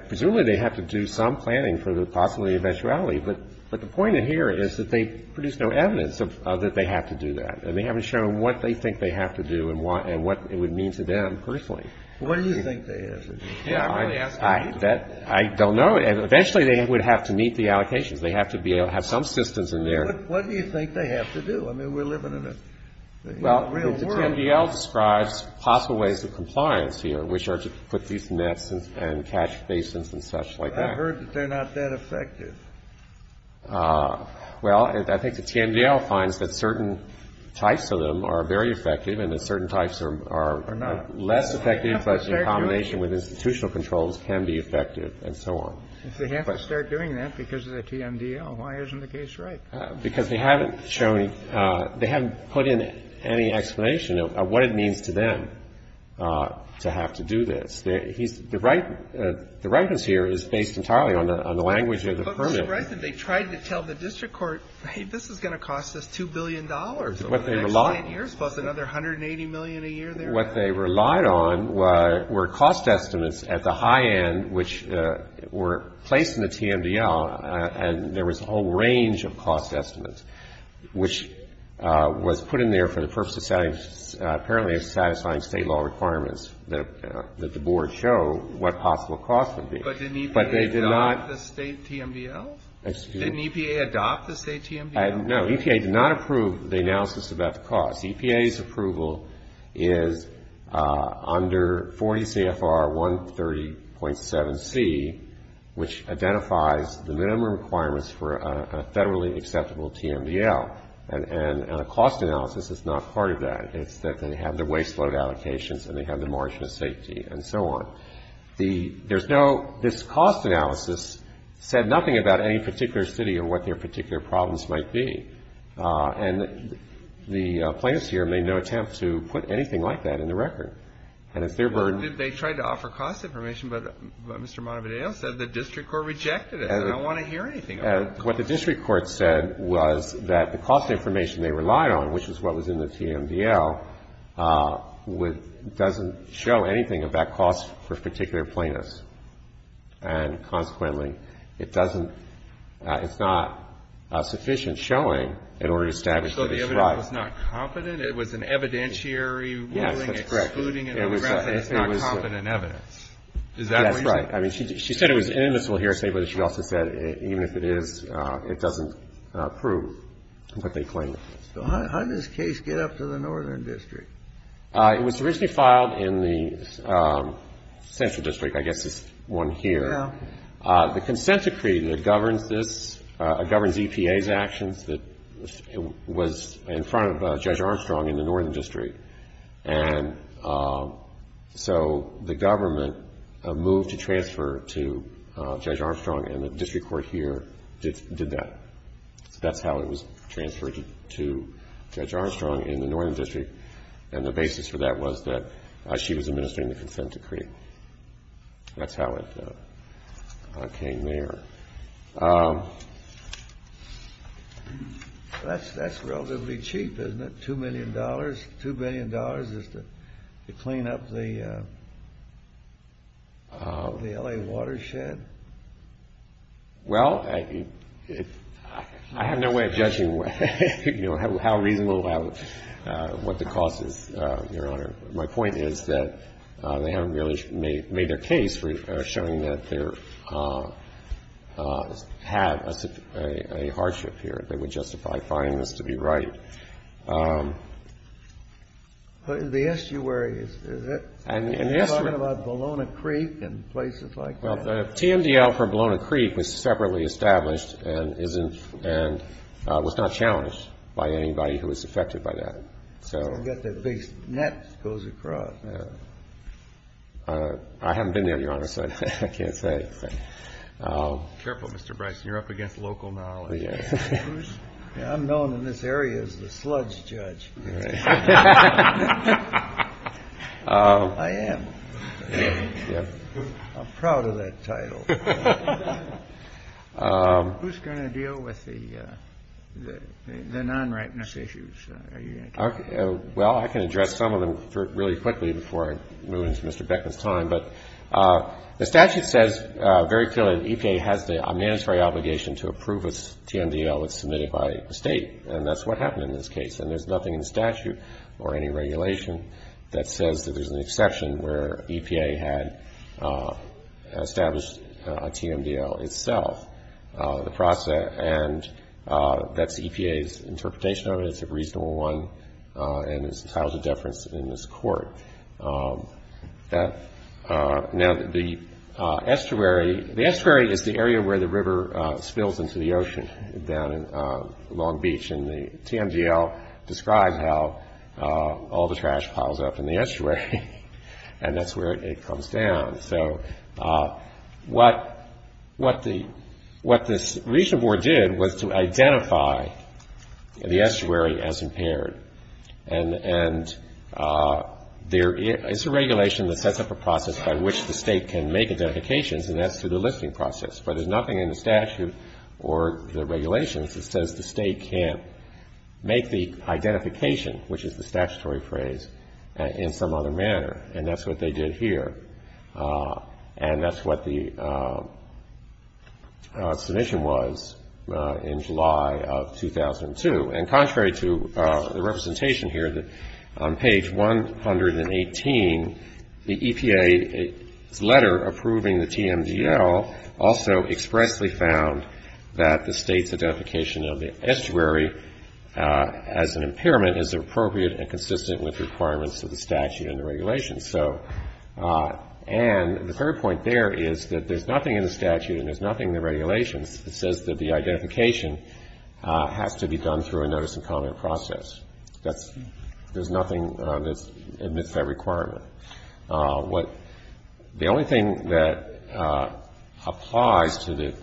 presumably they have to do some planning for the possibility of eventuality, but the point here is that they produce no evidence that they have to do that. They haven't shown what they think they have to do and what it would mean to them personally. What do you think they have to do? I don't know. Eventually they would have to meet the allocations. They have to be able to have some systems in there. What do you think they have to do? I mean, we're living in a real world. Well, the TMDL describes possible ways of compliance here, which are to put these nets and catch basements and such like that. I heard that they're not that effective. Well, I think the TMDL finds that certain types of them are very effective and that certain types are less effective, but in combination with institutional controls can be effective and so on. If they have to start doing that because of the TMDL, why isn't the case right? Because they haven't shown, they haven't put in any explanation of what it means to them to have to do this. The rightness here is based entirely on the language of the permit. But they tried to tell the district court, hey, this is going to cost us $2 billion over the next 20 years plus another $180 million a year. What they relied on were cost estimates at the high end, which were placed in the TMDL, and there was a whole range of cost estimates, which was put in there for the purpose of apparently satisfying state law requirements that the board show what possible costs would be. But didn't EPA adopt the state TMDL? Excuse me. Didn't EPA adopt the state TMDL? No, EPA did not approve the analysis of that cost. EPA's approval is under 40 CFR 130.7C, which identifies the minimum requirements for a federally accessible TMDL. And a cost analysis is not part of that. It's that they have the waste load allocations and they have the margin of safety and so on. There's no, this cost analysis said nothing about any particular city or what their particular problems might be. And the plaintiffs here made no attempt to put anything like that in the record. They tried to offer cost information, but Mr. Montevideo said the district court rejected it. They don't want to hear anything. What the district court said was that the cost information they relied on, which is what was in the TMDL, doesn't show anything about cost for particular plaintiffs. And consequently, it doesn't, it's not sufficient showing in order to establish that it's right. So the evidence was not confident? It was an evidentiary ruling excluding it from the record? Yes, that's correct. And it's not confident evidence? That's right. I mean, she said it was inadmissible here. I said what she also said, even if it is, it doesn't prove what they claim. So how did this case get up to the Northern District? It was originally filed in the Central District. I guess it's one here. The Consensus Treaty that governs this, governs EPA's actions, was in front of Judge Armstrong in the Northern District. And so the government moved to transfer to Judge Armstrong, and the district court here did that. That power was transferred to Judge Armstrong in the Northern District, and the basis for that was that she was administering the consent decree. That's how it came there. That's relatively cheap, isn't it? Two million dollars? Two million dollars just to clean up the L.A. watershed? Well, I have no way of judging how reasonable that was, what the cause is, Your Honor. My point is that they haven't really made their case showing that they have a hardship here that would justify finding this to be right. But in the estuaries, is that right? You're talking about Bologna Creek and places like that? Well, the TMDL for Bologna Creek was separately established and was not challenged by anybody who was affected by that. I forget that big net that goes across. I haven't been there, Your Honor, so I can't say. Careful, Mr. Bryson, you're up against local knowledge. I'm known in this area as the sludge judge. I am. I'm proud of that title. Who's going to deal with the non-rightness issues? Well, I can address some of them really quickly before I lose Mr. Beckman's time. But the statute says very clearly the EPA has a mandatory obligation to approve a TMDL that's submitted by the state, and that's what happened in this case. And there's nothing in the statute or any regulation that says that there's an exception where EPA had established a TMDL itself. And that's EPA's interpretation of it. It's a reasonable one, and it's housed a deference in this court. Now, the estuary, the estuary is the area where the river spills into the ocean down in Long Beach. And the TMDL describes how all the trash piles up in the estuary, and that's where it comes down. So what this regional board did was to identify the estuary as impaired. And it's a regulation that sets up a process by which the state can make identifications, and that's through the listing process. But there's nothing in the statute or the regulations that says the state can't make the identification, which is the statutory phrase, in some other manner. And that's what they did here, and that's what the explanation was in July of 2002. And contrary to the representation here, on page 118, the EPA letter approving the TMDL also expressly found that the state's And the third point there is that there's nothing in the statute and there's nothing in the regulations that says that the identification has to be done through a notice of comment process. There's nothing that admits that requirement. The only thing that applies to the,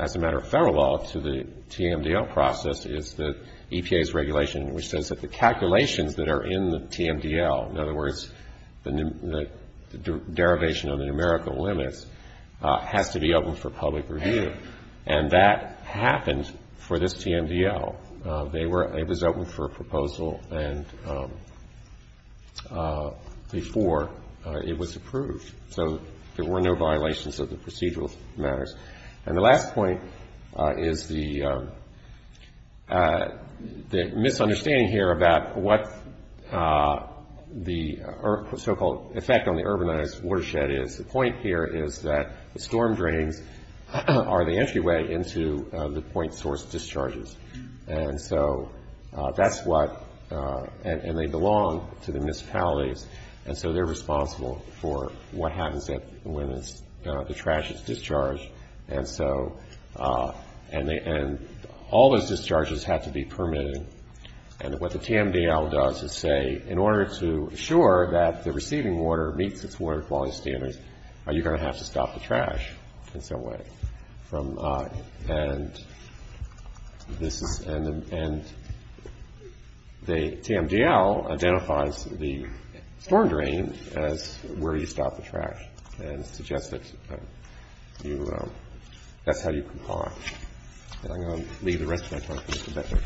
as a matter of federal law, to the TMDL process is the EPA's regulation, which says that the calculations that are in the TMDL, in other words, the derivation of the numerical limits, have to be open for public review. And that happened for this TMDL. It was open for proposal before it was approved. So there were no violations of the procedural merits. And the last point is the misunderstanding here about what the so-called effect on the urbanized watershed is. The point here is that the storm drain are the entryway into the point source discharges. And so that's what, and they belong to the municipalities, And so they're responsible for what happens when the trash is discharged. And so, and all those discharges have to be permitted. And what the TMDL does is say, in order to ensure that the receiving water meets its water quality standards, you're going to have to stop the trash in some way. And this is, and the TMDL identifies the storm drain as where you stop the trash. And suggests that you, that's how you comply. And I'm going to leave the rest of my talk to Mr. Becker.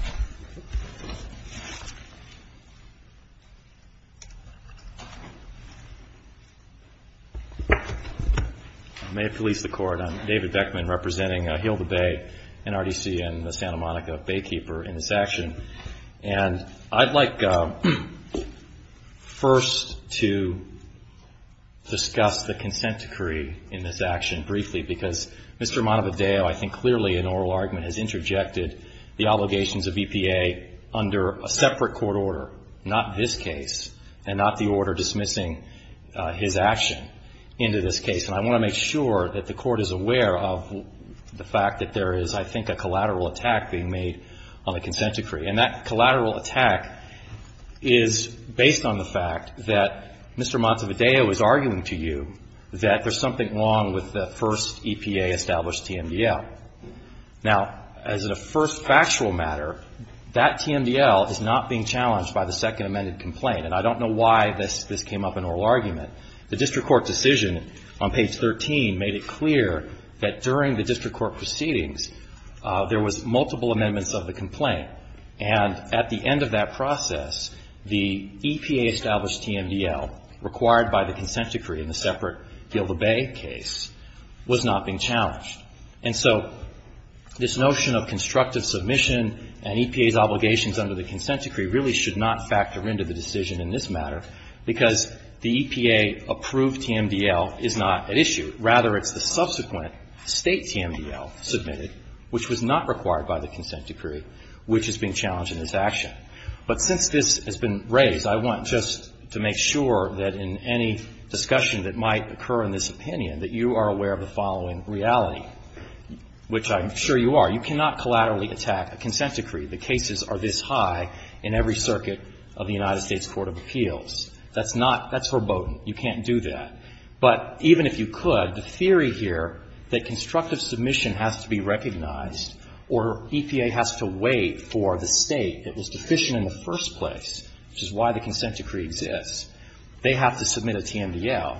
I may have to leave the court. I'm David Beckman, representing Hilda Bay NRDC and the Santa Monica Baykeeper in this action. And I'd like first to discuss the consent decree in this action briefly, because Mr. Montevideo, I think clearly in oral argument, has interjected the allegations of EPA under a separate court order. Not this case. And not the order dismissing his action into this case. And I want to make sure that the court is aware of the fact that there is, I think, a collateral attack being made on the consent decree. And that collateral attack is based on the fact that Mr. Montevideo is arguing to you that there's something wrong with the first EPA established TMDL. Now, as a first factual matter, that TMDL is not being challenged by the second amended complaint. And I don't know why this came up in oral argument. The district court decision on page 13 made it clear that during the district court proceedings, there was multiple amendments of the complaint. And at the end of that process, the EPA established TMDL required by the consent decree in the separate Hilda Bay case was not being challenged. And so this notion of constructive submission and EPA's obligations under the consent decree really should not factor into the decision in this matter, because the EPA approved TMDL is not at issue. Rather, it's the subsequent state TMDL submitted, which was not required by the consent decree, which is being challenged in this action. But since this has been raised, I want just to make sure that in any discussion that might occur in this opinion, that you are aware of the following reality, which I'm sure you are. You cannot collaterally attack a consent decree. The cases are this high in every circuit of the United States Court of Appeals. That's not, that's verboten. You can't do that. But even if you could, the theory here that constructive submission has to be recognized or EPA has to wait for the state that was deficient in the first place, which is why the consent decree exists, they have to submit a TMDL.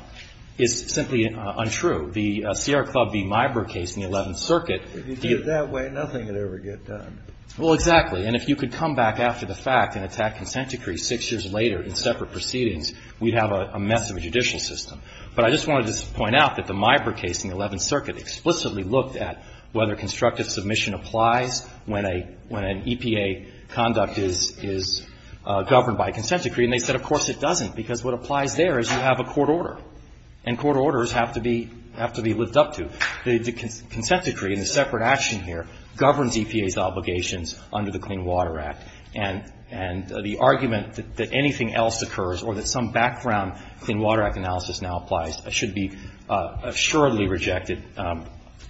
It's simply untrue. The Sierra Club v. Miber case in the 11th Circuit. If you did it that way, nothing could ever get done. Well, exactly. And if you could come back after the fact and attack consent decrees six years later in separate proceedings, we'd have a mess of a judicial system. But I just wanted to point out that the Miber case in the 11th Circuit explicitly looked at whether constructive submission applies when an EPA conduct is governed by a consent decree. And they said, of course it doesn't, because what applies there is you have a court order. And court orders have to be lived up to. The consent decree in the separate action here governs EPA's obligations under the Clean Water Act. And the argument that anything else occurs or that some background Clean Water Act analysis now applies should be assuredly rejected,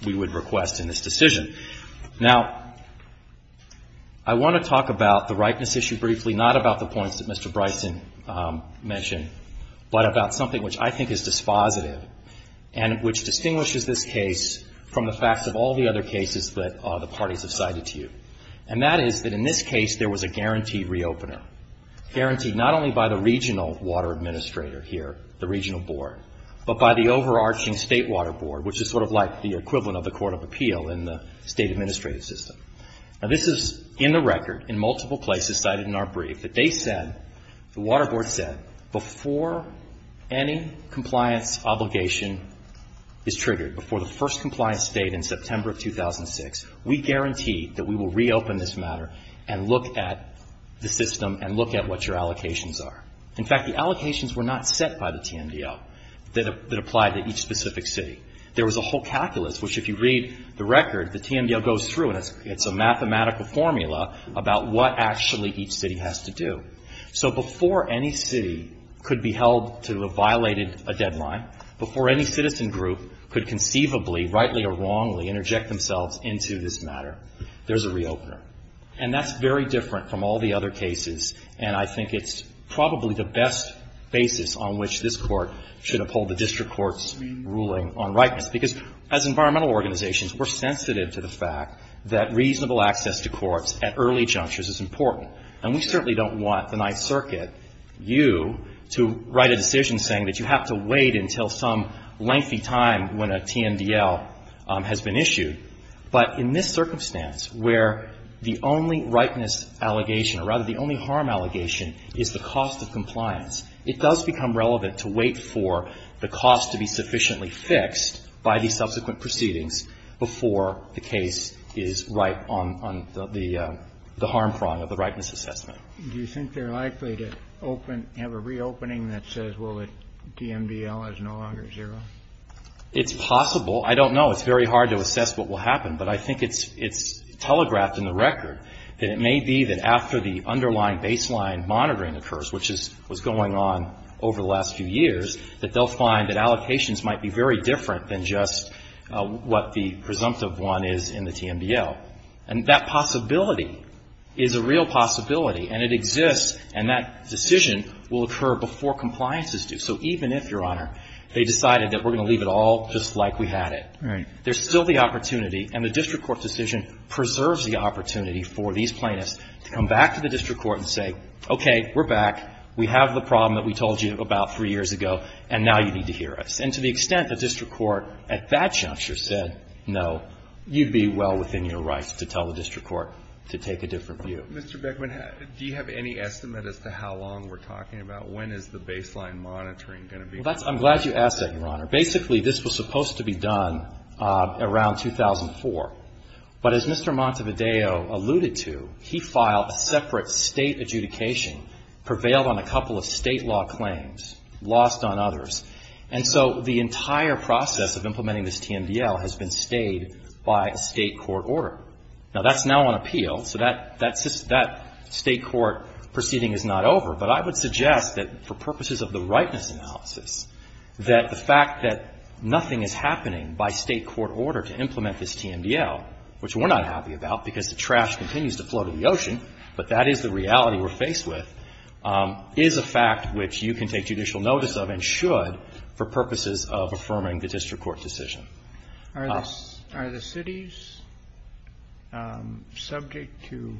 we would request in this decision. Now, I want to talk about the rightness issue briefly, not about the points that Mr. Bryson mentioned, but about something which I think is dispositive and which distinguishes this case from the facts of all the other cases that the parties have cited to you. And that is that in this case there was a guaranteed re-opener, guaranteed not only by the regional water administrator here, the regional board, but by the overarching state water board, which is sort of like the equivalent of the Court of Appeal in the state administrative system. Now, this is in the record in multiple places cited in our brief. The date said, the water board said, before any compliant obligation is triggered, before the first compliant state in September 2006, we guarantee that we will reopen this matter and look at the system and look at what your allocations are. In fact, the allocations were not set by the TMDL that applied to each specific city. There was a whole calculus, which if you read the record, the TMDL goes through and it's a mathematical formula about what actually each city has to do. So, before any city could be held to have violated a deadline, before any citizen group could conceivably, rightly or wrongly interject themselves into this matter, there's a re-opener. And that's very different from all the other cases. And I think it's probably the best basis on which this Court should uphold the district court's ruling on rightness. Because as environmental organizations, we're sensitive to the fact that reasonable access to courts at early junctures is important. And we certainly don't want the Ninth Circuit, you, to write a decision saying that you have to wait until some lengthy time when a TMDL has been issued. But in this circumstance, where the only rightness allegation, or rather the only harm allegation, is the cost of compliance, it does become relevant to wait for the cost to be sufficiently fixed by the subsequent proceedings before the case is right on the harm prong of the rightness assessment. Do you think they're likely to have a re-opening that says, well, the TMDL is no longer zero? It's possible. I don't know. It's very hard to assess what will happen. But I think it's telegraphed in the record that it may be that after the underlying baseline monitoring occurs, which was going on over the last few years, that they'll find that allocations might be very different than just what the presumptive one is in the TMDL. And that possibility is a real possibility. And it exists. And that decision will occur before compliance is due. So even if, Your Honor, they decided that we're going to leave it all just like we had it, there's still the opportunity, and the district court decision preserves the opportunity for these plaintiffs to come back to the district court and say, okay, we're back. We have the problem that we told you about three years ago, and now you need to hear us. And to the extent the district court at that juncture said no, you'd be well within your rights to tell the district court to take a different view. Mr. Beckman, do you have any estimate as to how long we're talking about? When is the baseline monitoring going to be? I'm glad you asked that, Your Honor. Basically, this was supposed to be done around 2004. But as Mr. Montevideo alluded to, he filed a separate state adjudication, prevailed on a couple of state law claims, lost on others. And so the entire process of implementing this TMDL has been stayed by a state court order. Now, that's now on appeal, so that state court proceeding is not over. But I would suggest that for purposes of the rightness analysis, that the fact that nothing is happening by state court order to implement this TMDL, which we're not happy about because the trash continues to float in the ocean, but that is the reality we're faced with, is a fact which you can take judicial notice of and should for purposes of affirming the district court's decision. Are the cities subject to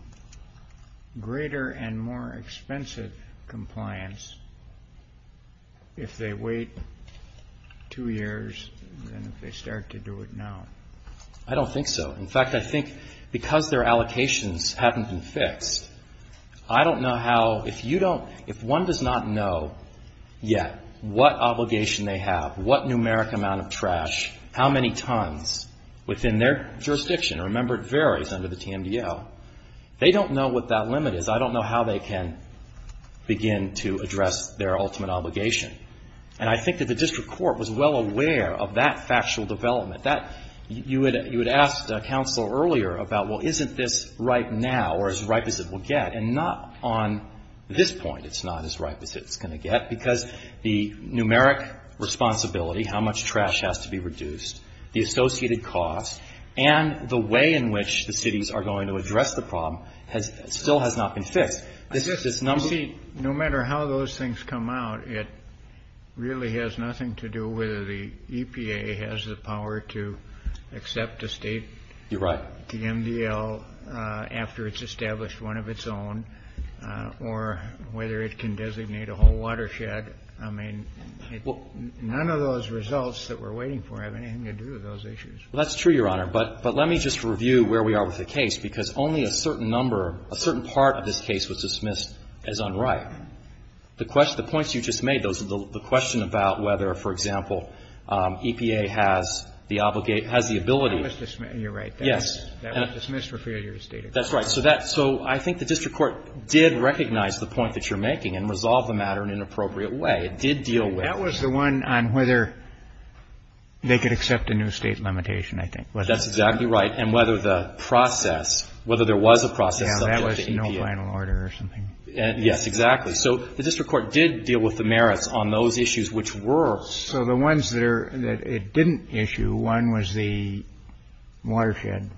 greater and more expensive compliance if they wait two years than if they start to do it now? I don't think so. In fact, I think because their allocations haven't been fixed, I don't know how, if one does not know yet what obligation they have, what numeric amount of trash, how many tons within their jurisdiction. Remember, it varies under the TMDL. They don't know what that limit is. I don't know how they can begin to address their ultimate obligation. And I think that the district court was well aware of that factual development. You had asked counsel earlier about, well, isn't this right now or as right as it will get? And not on this point it's not as right as it's going to get because the numeric responsibility, how much trash has to be reduced, the associated costs, and the way in which the cities are going to address the problem still has not been fixed. No matter how those things come out, it really has nothing to do with whether the EPA has the power to accept a state TMDL after it's established one of its own or whether it can designate a whole watershed. I mean, none of those results that we're waiting for have anything to do with those issues. Well, that's true, Your Honor. But let me just review where we are with the case because only a certain number, a certain part of this case was dismissed as unright. The points you just made, the question about whether, for example, EPA has the ability. You're right. Yes. That was dismissed for failure to state it. That's right. So I think the district court did recognize the point that you're making and resolve the matter in an appropriate way. It did deal with. That was the one on whether they could accept a new state limitation, I think, wasn't it? That's exactly right. And whether the process, whether there was a process. Now, that was no final order or something. Yes, exactly. So the district court did deal with the merits on those issues which were. So the ones that it didn't issue, one was the watershed.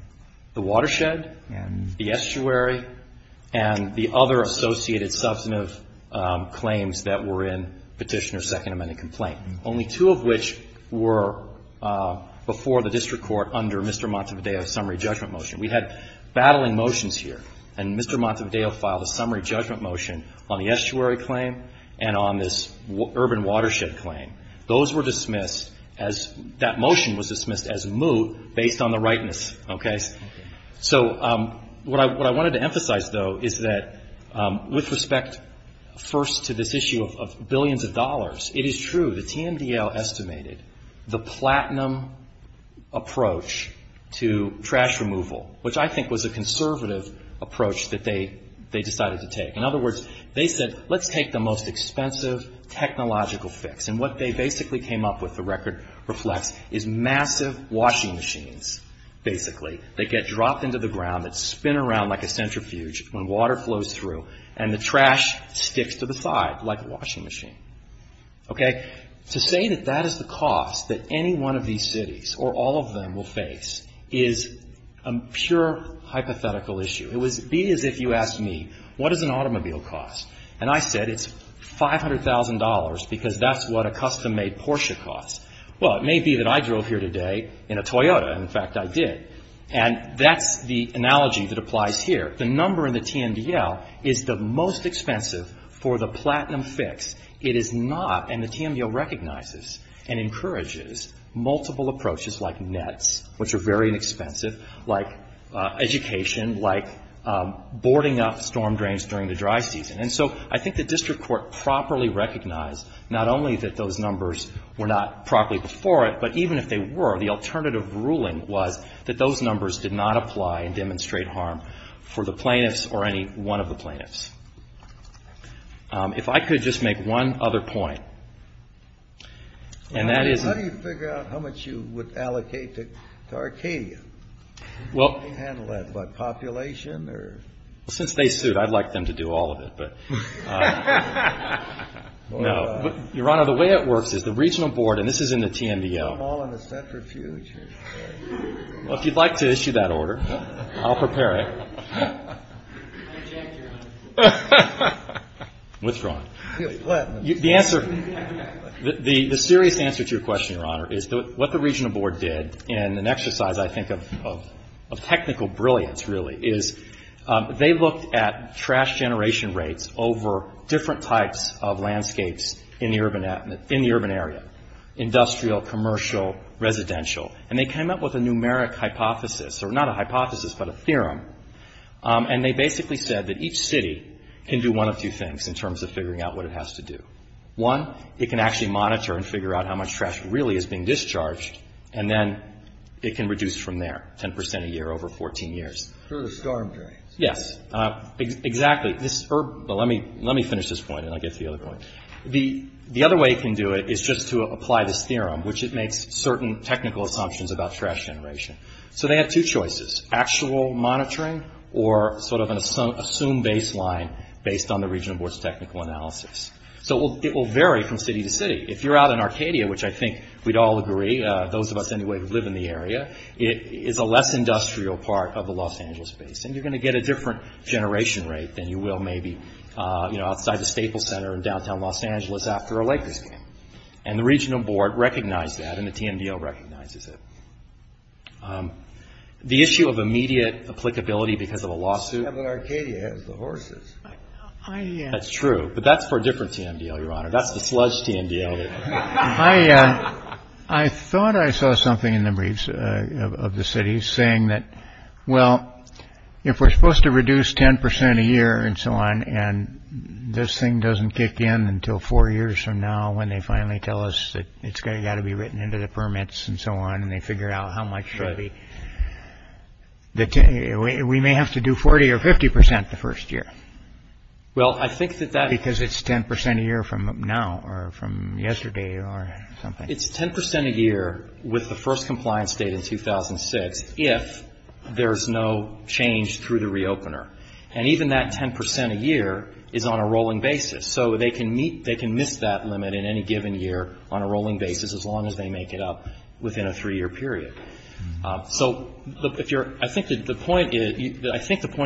The watershed? And the estuary and the other associated substantive claims that were in Petitioner's Second Amendment complaint. Only two of which were before the district court under Mr. Montevideo's summary judgment motion. We had battling motions here. And Mr. Montevideo filed a summary judgment motion on the estuary claim and on this urban watershed claim. Those were dismissed as, that motion was dismissed as moot based on the rightness, okay? So what I wanted to emphasize, though, is that with respect first to this issue of billions of dollars, it is true. The TMDL estimated the platinum approach to trash removal, which I think was a conservative approach that they decided to take. In other words, they said, let's take the most expensive technological fix. And what they basically came up with, the record reflects, is massive washing machines, basically. They get dropped into the ground, they spin around like a centrifuge when water flows through, and the trash sticks to the side like a washing machine. Okay? To say that that is the cost that any one of these cities, or all of them, will face is a pure hypothetical issue. It would be as if you asked me, what does an automobile cost? And I said, it's $500,000 because that's what a custom-made Porsche costs. Well, it may be that I drove here today in a Toyota, and in fact I did. And that's the analogy that applies here. The number in the TMDL is the most expensive for the platinum fix. It is not, and the TMDL recognizes and encourages, multiple approaches like nets, which are very inexpensive, like education, like boarding up storm drains during the dry season. And so, I think the district court properly recognized, not only that those numbers were not properly before it, but even if they were, the alternative ruling was that those numbers did not apply and demonstrate harm for the plaintiffs or any one of the plaintiffs. If I could just make one other point. Let me figure out how much you would allocate to Arcadia. You can handle that population? Since they sued, I'd like them to do all of it. Your Honor, the way it works is the regional board, and this is in the TMDL. If you'd like to issue that order, I'll prepare it. What's wrong? The serious answer to your question, Your Honor, is what the regional board did, and an exercise, I think, of technical brilliance, really, is they looked at trash generation rates over different types of landscapes in the urban area. Industrial, commercial, residential. And they came up with a numeric hypothesis, or not a hypothesis, but a theorem. And they basically said that each city can do one of two things in terms of figuring out what it has to do. One, it can actually monitor and figure out how much trash really is being discharged, and then it can reduce from there, 10% a year over 14 years. Through the storm drain. Yes, exactly. Let me finish this point, and I'll get to the other point. The other way you can do it is just to apply this theorem, which it makes certain technical assumptions about trash generation. So, they have two choices. Actual monitoring, or sort of an assumed baseline, based on the regional board's technical analysis. So, it will vary from city to city. If you're out in Arcadia, which I think we'd all agree, those of us anyway who live in the area, it is a less industrial part of the Los Angeles space. And you're going to get a different generation rate than you will maybe, you know, outside the Staples Center in downtown Los Angeles after a lake disaster. And the regional board recognized that, and the TMDO recognizes it. The issue of immediate applicability because of a lawsuit. But Arcadia has the horses. That's true. But that's for a different TMDO, Your Honor. That's the sludge TMDO. I thought I saw something in the briefs of the city saying that, well, if we're supposed to reduce 10% a year and so on, and this thing doesn't kick in until four years from now when they finally tell us that it's got to be written into the permits and so on, and they figure out how much should be, we may have to do 40 or 50% the first year. Well, I think that that's... Because it's 10% a year from now or from yesterday or something. It's 10% a year with the first compliance date in 2006 if there's no change through the re-opener. And even that 10% a year is on a rolling basis. So they can miss that limit in any given year on a rolling basis as long as they make it up within a three-year period. So I think the point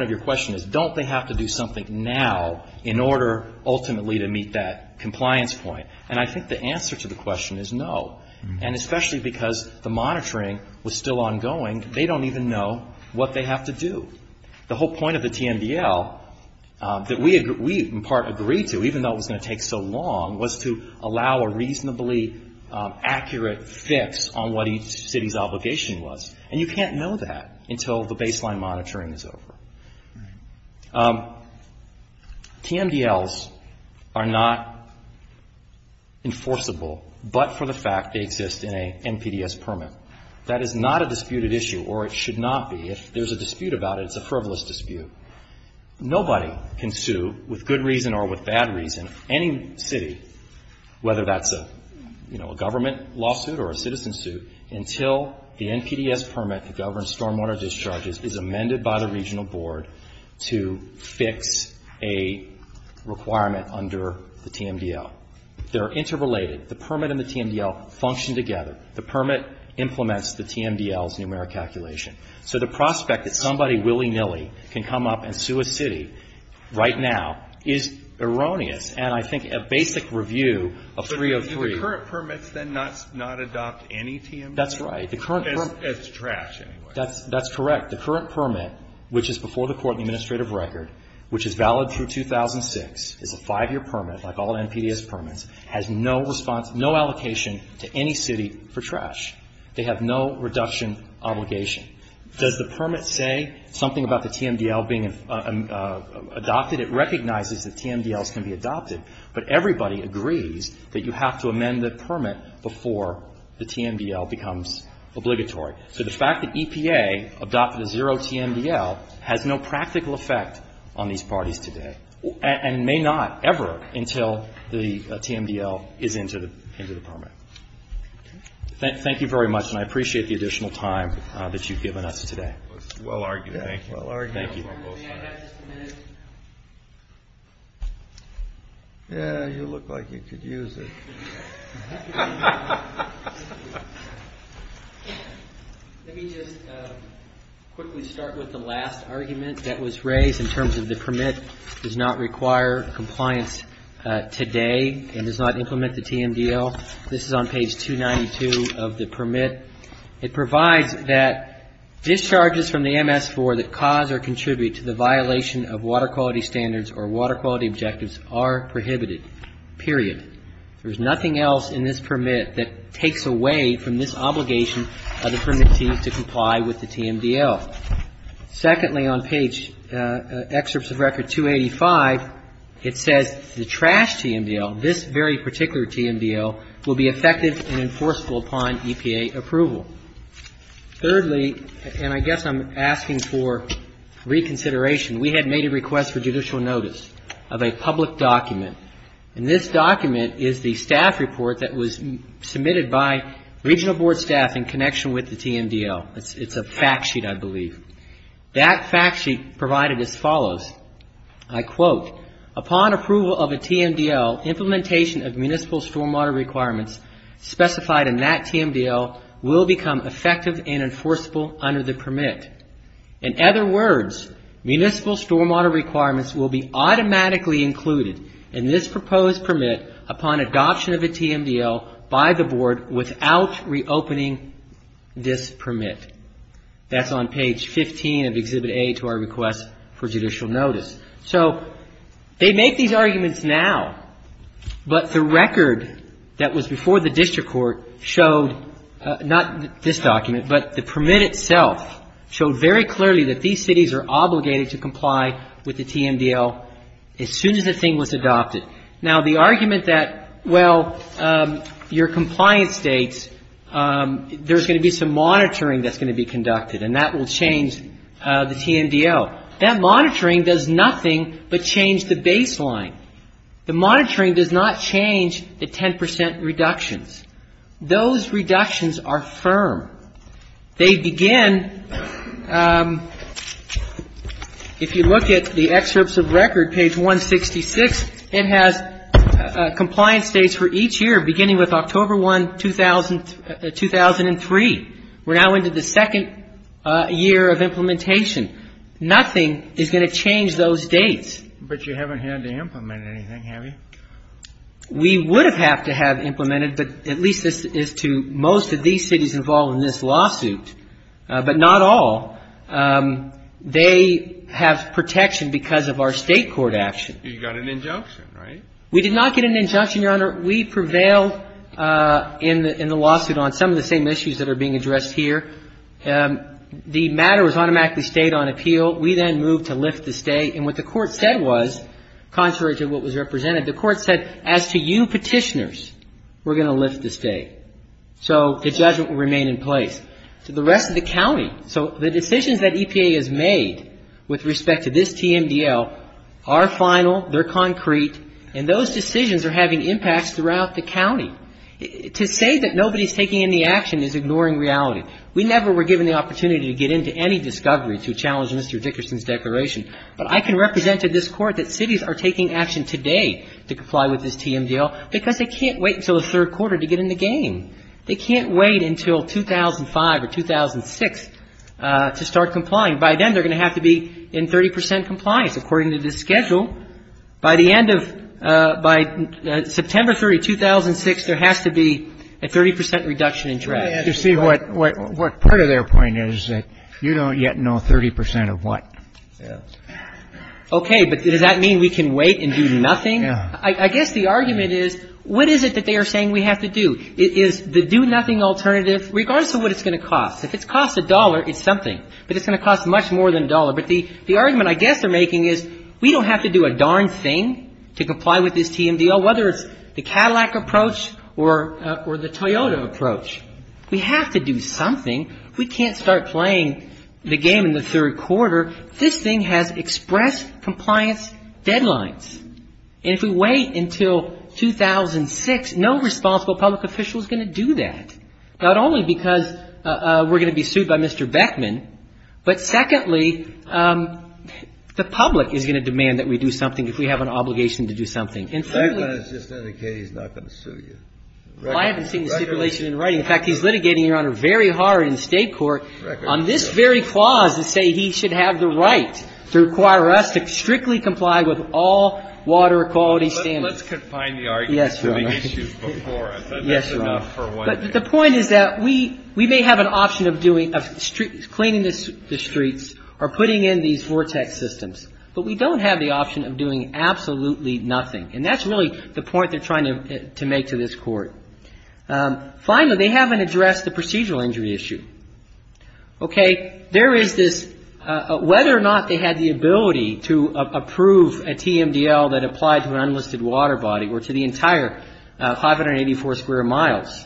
of your question is don't they have to do something now in order ultimately to meet that compliance point? And I think the answer to the question is no. And especially because the monitoring was still ongoing, they don't even know what they have to do. The whole point of the TMDL that we in part agreed to, even though it was going to take so long, was to allow a reasonably accurate fix on what each city's obligation was. And you can't know that until the baseline monitoring is over. TMDLs are not enforceable but for the fact they exist in an NPDES permit. That is not a disputed issue or it should not be. If there's a dispute about it, it's a frivolous dispute. Nobody can sue with good reason or with bad reason, any city, whether that's a government lawsuit or a citizen suit, until the NPDES permit to govern stormwater discharges is amended by the regional board to fix a requirement under the TMDL. They're interrelated. The permit and the TMDL function together. The permit implements the TMDL's numeric calculation. So the prospect that somebody willy-nilly can come up and sue a city right now is erroneous. And I think a basic review of 303. So the current permit does not adopt any TMDL? That's right. It's trash anyway. That's correct. The current permit, which is before the court administrative record, which is valid through 2006, like all NPDES permits, has no allocation to any city for trash. They have no reduction obligation. Does the permit say something about the TMDL being adopted? It recognizes that TMDLs can be adopted, but everybody agrees that you have to amend the permit before the TMDL becomes obligatory. So the fact that EPA adopted a zero TMDL has no practical effect on these parties today and may not ever until the TMDL is into the permit. Thank you very much, and I appreciate the additional time that you've given us today. Well argued. Thank you. Thank you. Yeah, you look like you could use it. Let me just quickly start with the last argument that was raised in terms of the permit does not require compliance today and does not implement the TMDL. This is on page 292 of the permit. It provides that discharges from the MS for the cause or contribute to the violation of water quality standards or water quality objectives are prohibited, period. There's nothing else in this permit that takes away from this obligation of the permittees to comply with the TMDL. Secondly, on page, excerpts of record 285, it says the trash TMDL, this very particular TMDL, will be effective and enforceable upon EPA approval. Thirdly, and I guess I'm asking for reconsideration, we had made a request for judicial notice of a public document. And this document is the staff report that was submitted by regional board staff in connection with the TMDL. It's a fact sheet, I believe. That fact sheet provided as follows. I quote, upon approval of a TMDL, implementation of municipal stormwater requirements specified in that TMDL will become effective and enforceable under the permit. In other words, municipal stormwater requirements will be automatically included in this proposed permit upon adoption of a TMDL by the board without reopening this permit. That's on page 15 of Exhibit A to our request for judicial notice. So, they make these arguments now. But the record that was before the district court showed, not this document, but the permit itself showed very clearly that these cities are obligated to comply with the TMDL as soon as the thing was adopted. Now, the argument that, well, your compliance states, there's going to be some monitoring that's going to be conducted and that will change the TMDL. That monitoring does nothing but change the baseline. The monitoring does not change the 10% reductions. Those reductions are firm. They begin, if you look at the excerpts of record, page 166, it has compliance dates for each year beginning with October 1, 2003. We're now into the second year of implementation. Nothing is going to change those dates. But you haven't had to implement anything, have you? We would have had to have implemented, but at least this is to most of these cities involved in this lawsuit. But not all. They have protection because of our state court action. You got an injunction, right? We did not get an injunction, Your Honor. We prevailed in the lawsuit on some of the same issues that are being addressed here. The matter was automatically stayed on appeal. We then moved to lift the stay. And what the court said was, contrary to what was represented, the court said, as to you petitioners, we're going to lift the stay. So, the judgment will remain in place. To the rest of the county, so the decisions that EPA has made with respect to this TMDL are final, they're concrete, and those decisions are having impacts throughout the county. To say that nobody is taking any action is ignoring reality. We never were given the opportunity to get into any discovery to challenge Mr. Dickerson's declaration. But I can represent to this court that cities are taking action today to comply with this TMDL because they can't wait until the third quarter to get in the game. They can't wait until 2005 or 2006 to start complying. By then, they're going to have to be in 30% compliance, according to the schedule. By the end of, by September 30, 2006, there has to be a 30% reduction in traffic. To see what part of their point is that you don't yet know 30% of what. Okay, but does that mean we can wait and do nothing? I guess the argument is, what is it that they are saying we have to do? Is the do-nothing alternative, regardless of what it's going to cost, if it costs a dollar, it's something. But it's going to cost much more than a dollar. But the argument I guess they're making is, we don't have to do a darn thing to comply with this TMDL, whether it's the Cadillac approach or the Toyota approach. We have to do something. We can't start playing the game in the third quarter. This thing has express compliance deadlines. And if we wait until 2006, no responsible public official is going to do that. Not only because we're going to be sued by Mr. Beckman, but secondly, the public is going to demand that we do something if we have an obligation to do something. Beckman has just indicated he's not going to sue you. I haven't seen the stipulation in writing. In fact, he's litigating, Your Honor, very hard in state court on this very clause to say he should have the right to require us to strictly comply with all water quality standards. Let's confine the argument to the issues before us. That's enough for one day. The point is that we may have an option of cleaning the streets or putting in these vortex systems, but we don't have the option of doing absolutely nothing. And that's really the point they're trying to make to this court. Finally, they haven't addressed the procedural injury issue. There is this, whether or not they have the ability to approve a TMDL that applies to an unlisted water body or to the entire 584 square miles.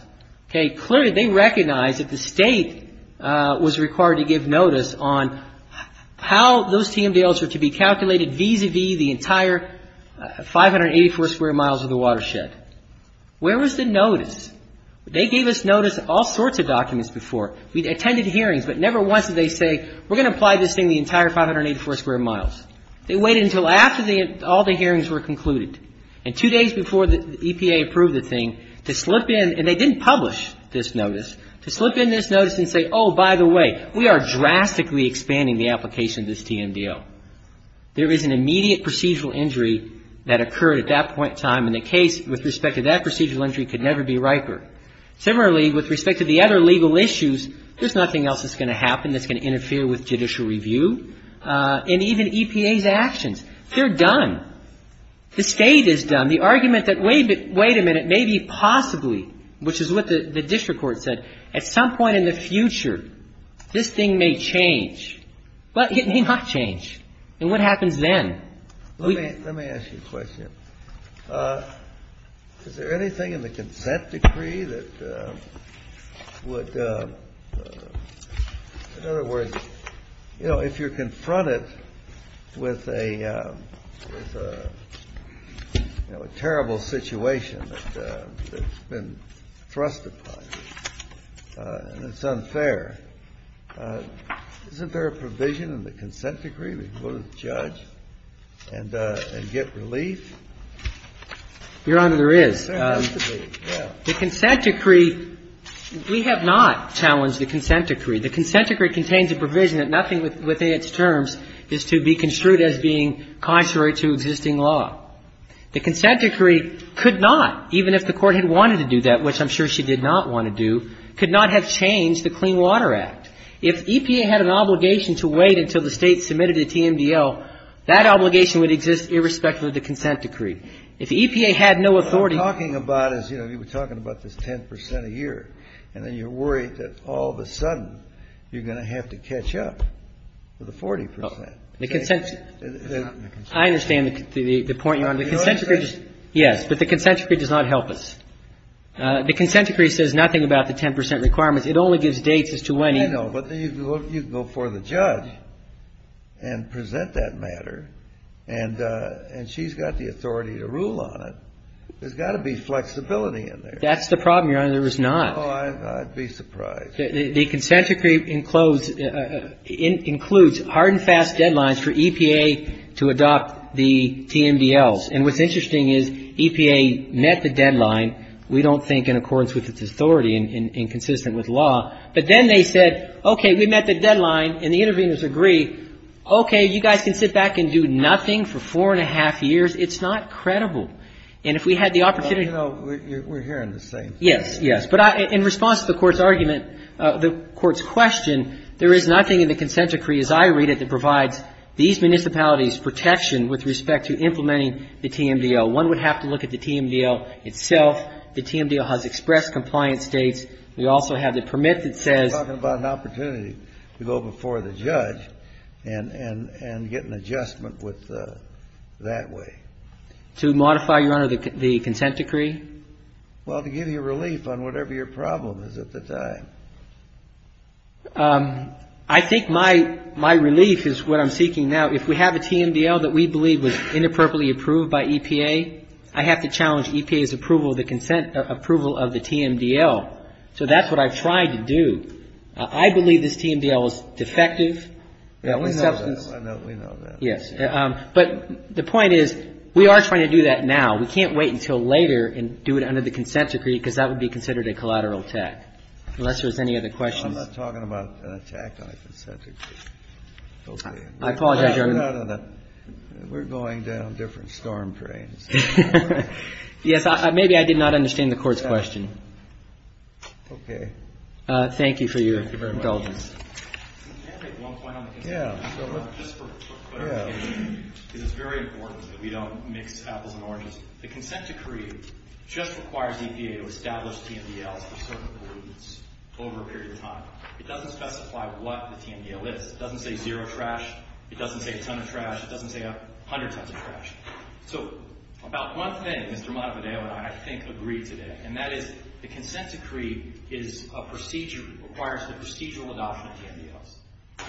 Clearly, they recognize that the state was required to give notice on how those TMDLs are to be calculated vis-à-vis the entire 584 square miles of the watershed. Where was the notice? They gave us notice of all sorts of documents before. We attended hearings, but never once did they say, we're going to apply this thing to the entire 584 square miles. They waited until after all the hearings were concluded. And two days before the EPA approved the thing, to slip in, and they didn't publish this notice, to slip in this notice and say, oh, by the way, we are drastically expanding the application of this TMDL. There is an immediate procedural injury that occurred at that point in time, and the case with respect to that procedural injury could never be riper. Similarly, with respect to the other legal issues, there's nothing else that's going to happen that's going to interfere with judicial review. And even EPA's actions, they're done. The state is done. The argument that, wait a minute, maybe possibly, which is what the district court said, at some point in the future, this thing may change. But it may not change. And what happens then? Let me ask you a question. Is there anything in the consent decree that would, in other words, you know, if you're confronted with a terrible situation that's been thrust upon you, and it's unfair, isn't there a provision in the consent decree to go to the judge and get relief? Your Honor, there is. The consent decree, we have not challenged the consent decree. The consent decree contains a provision that nothing within its terms is to be construed as being contrary to existing law. The consent decree could not, even if the court had wanted to do that, which I'm sure she did not want to do, could not have changed the Clean Water Act. If EPA had an obligation to wait until the state submitted a TMDL, that obligation would exist irrespective of the consent decree. If EPA had no authority... What we're talking about is, you know, we're talking about this 10% a year, and then you're worried that all of a sudden you're going to have to catch up with the 40%. The consent decree... I understand the point you're making. Yes, but the consent decree does not help us. The consent decree says nothing about the 10% requirements. It only gives dates as to when... I know, but then you can go before the judge and present that matter, and she's got the authority to rule on it. There's got to be flexibility in there. That's the problem, Your Honor, there is not. Oh, I'd be surprised. The consent decree includes hard and fast deadlines for EPA to adopt the TMDLs. And what's interesting is EPA met the deadline, we don't think, in accordance with its authority and consistent with law. But then they said, okay, we met the deadline, and the interveners agree. Okay, you guys can sit back and do nothing for four and a half years. It's not credible. You know, we're hearing the same thing. Yes, yes. But in response to the Court's question, there is nothing in the consent decree, as I read it, to provide these municipalities protection with respect to implementing the TMDL. One would have to look at the TMDL itself. The TMDL has express compliance dates. We also have the permit that says... You're talking about an opportunity to go before the judge and get an adjustment that way. To modify, Your Honor, the consent decree? Well, to give you relief on whatever your problem is at the time. I think my relief is what I'm seeking now. If we have a TMDL that we believe was inappropriately approved by EPA, I have to challenge EPA's approval of the TMDL. So that's what I've tried to do. I believe this TMDL is defective. Yeah, we know that. But the point is, we are trying to do that now. We can't wait until later and do it under the consent decree, because that would be considered a collateral attack, unless there's any other questions. I'm not talking about an attack on a consent decree. I apologize, Your Honor. We're going down different storm drains. Yes, maybe I did not understand the Court's question. Okay. Thank you for your indulgence. Okay, one final thing. Yeah. Just for clarity, it is very important that we don't make these battles more interesting. The consent decree just requires EPA to establish TMDLs of certain importance over a period of time. It doesn't specify what the TMDL is. It doesn't say zero trash. It doesn't say some trash. It doesn't say a hundred times a trash. So about one thing that Dramato and I, I think, agree today, and that is the consent decree is a procedure, requires the procedure without the TMDL.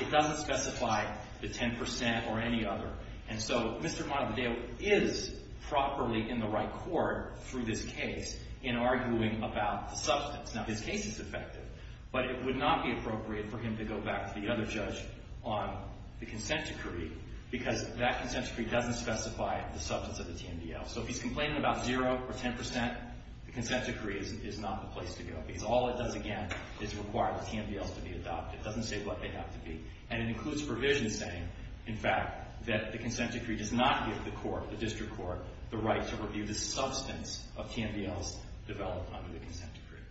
It doesn't specify the 10% or any other, and so Mr. Milandale is properly in the right court through this case in arguing about the substance. Now, this case is effective, but it would not be appropriate for him to go back to the other judge on the consent decree, because that consent decree doesn't specify the substance of the TMDL. So if he's complaining about zero or 10%, the consent decree is not the place to go, because all it does, again, is require the TMDL to be adopted. It doesn't say what they have to be, and it includes provisions saying, in fact, that the consent decree does not give the court, the district court, the right to review the substance of TMDLs developed under the consent decree.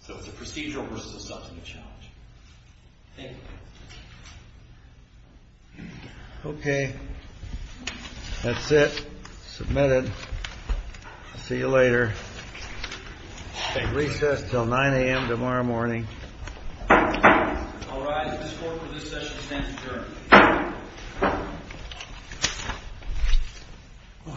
So it's a procedural versus substantive challenge. Thank you. Okay. That's it. Submitted. See you later. Take recess until 9 a.m. tomorrow morning. All rise. This court for this session stands adjourned. Go ahead.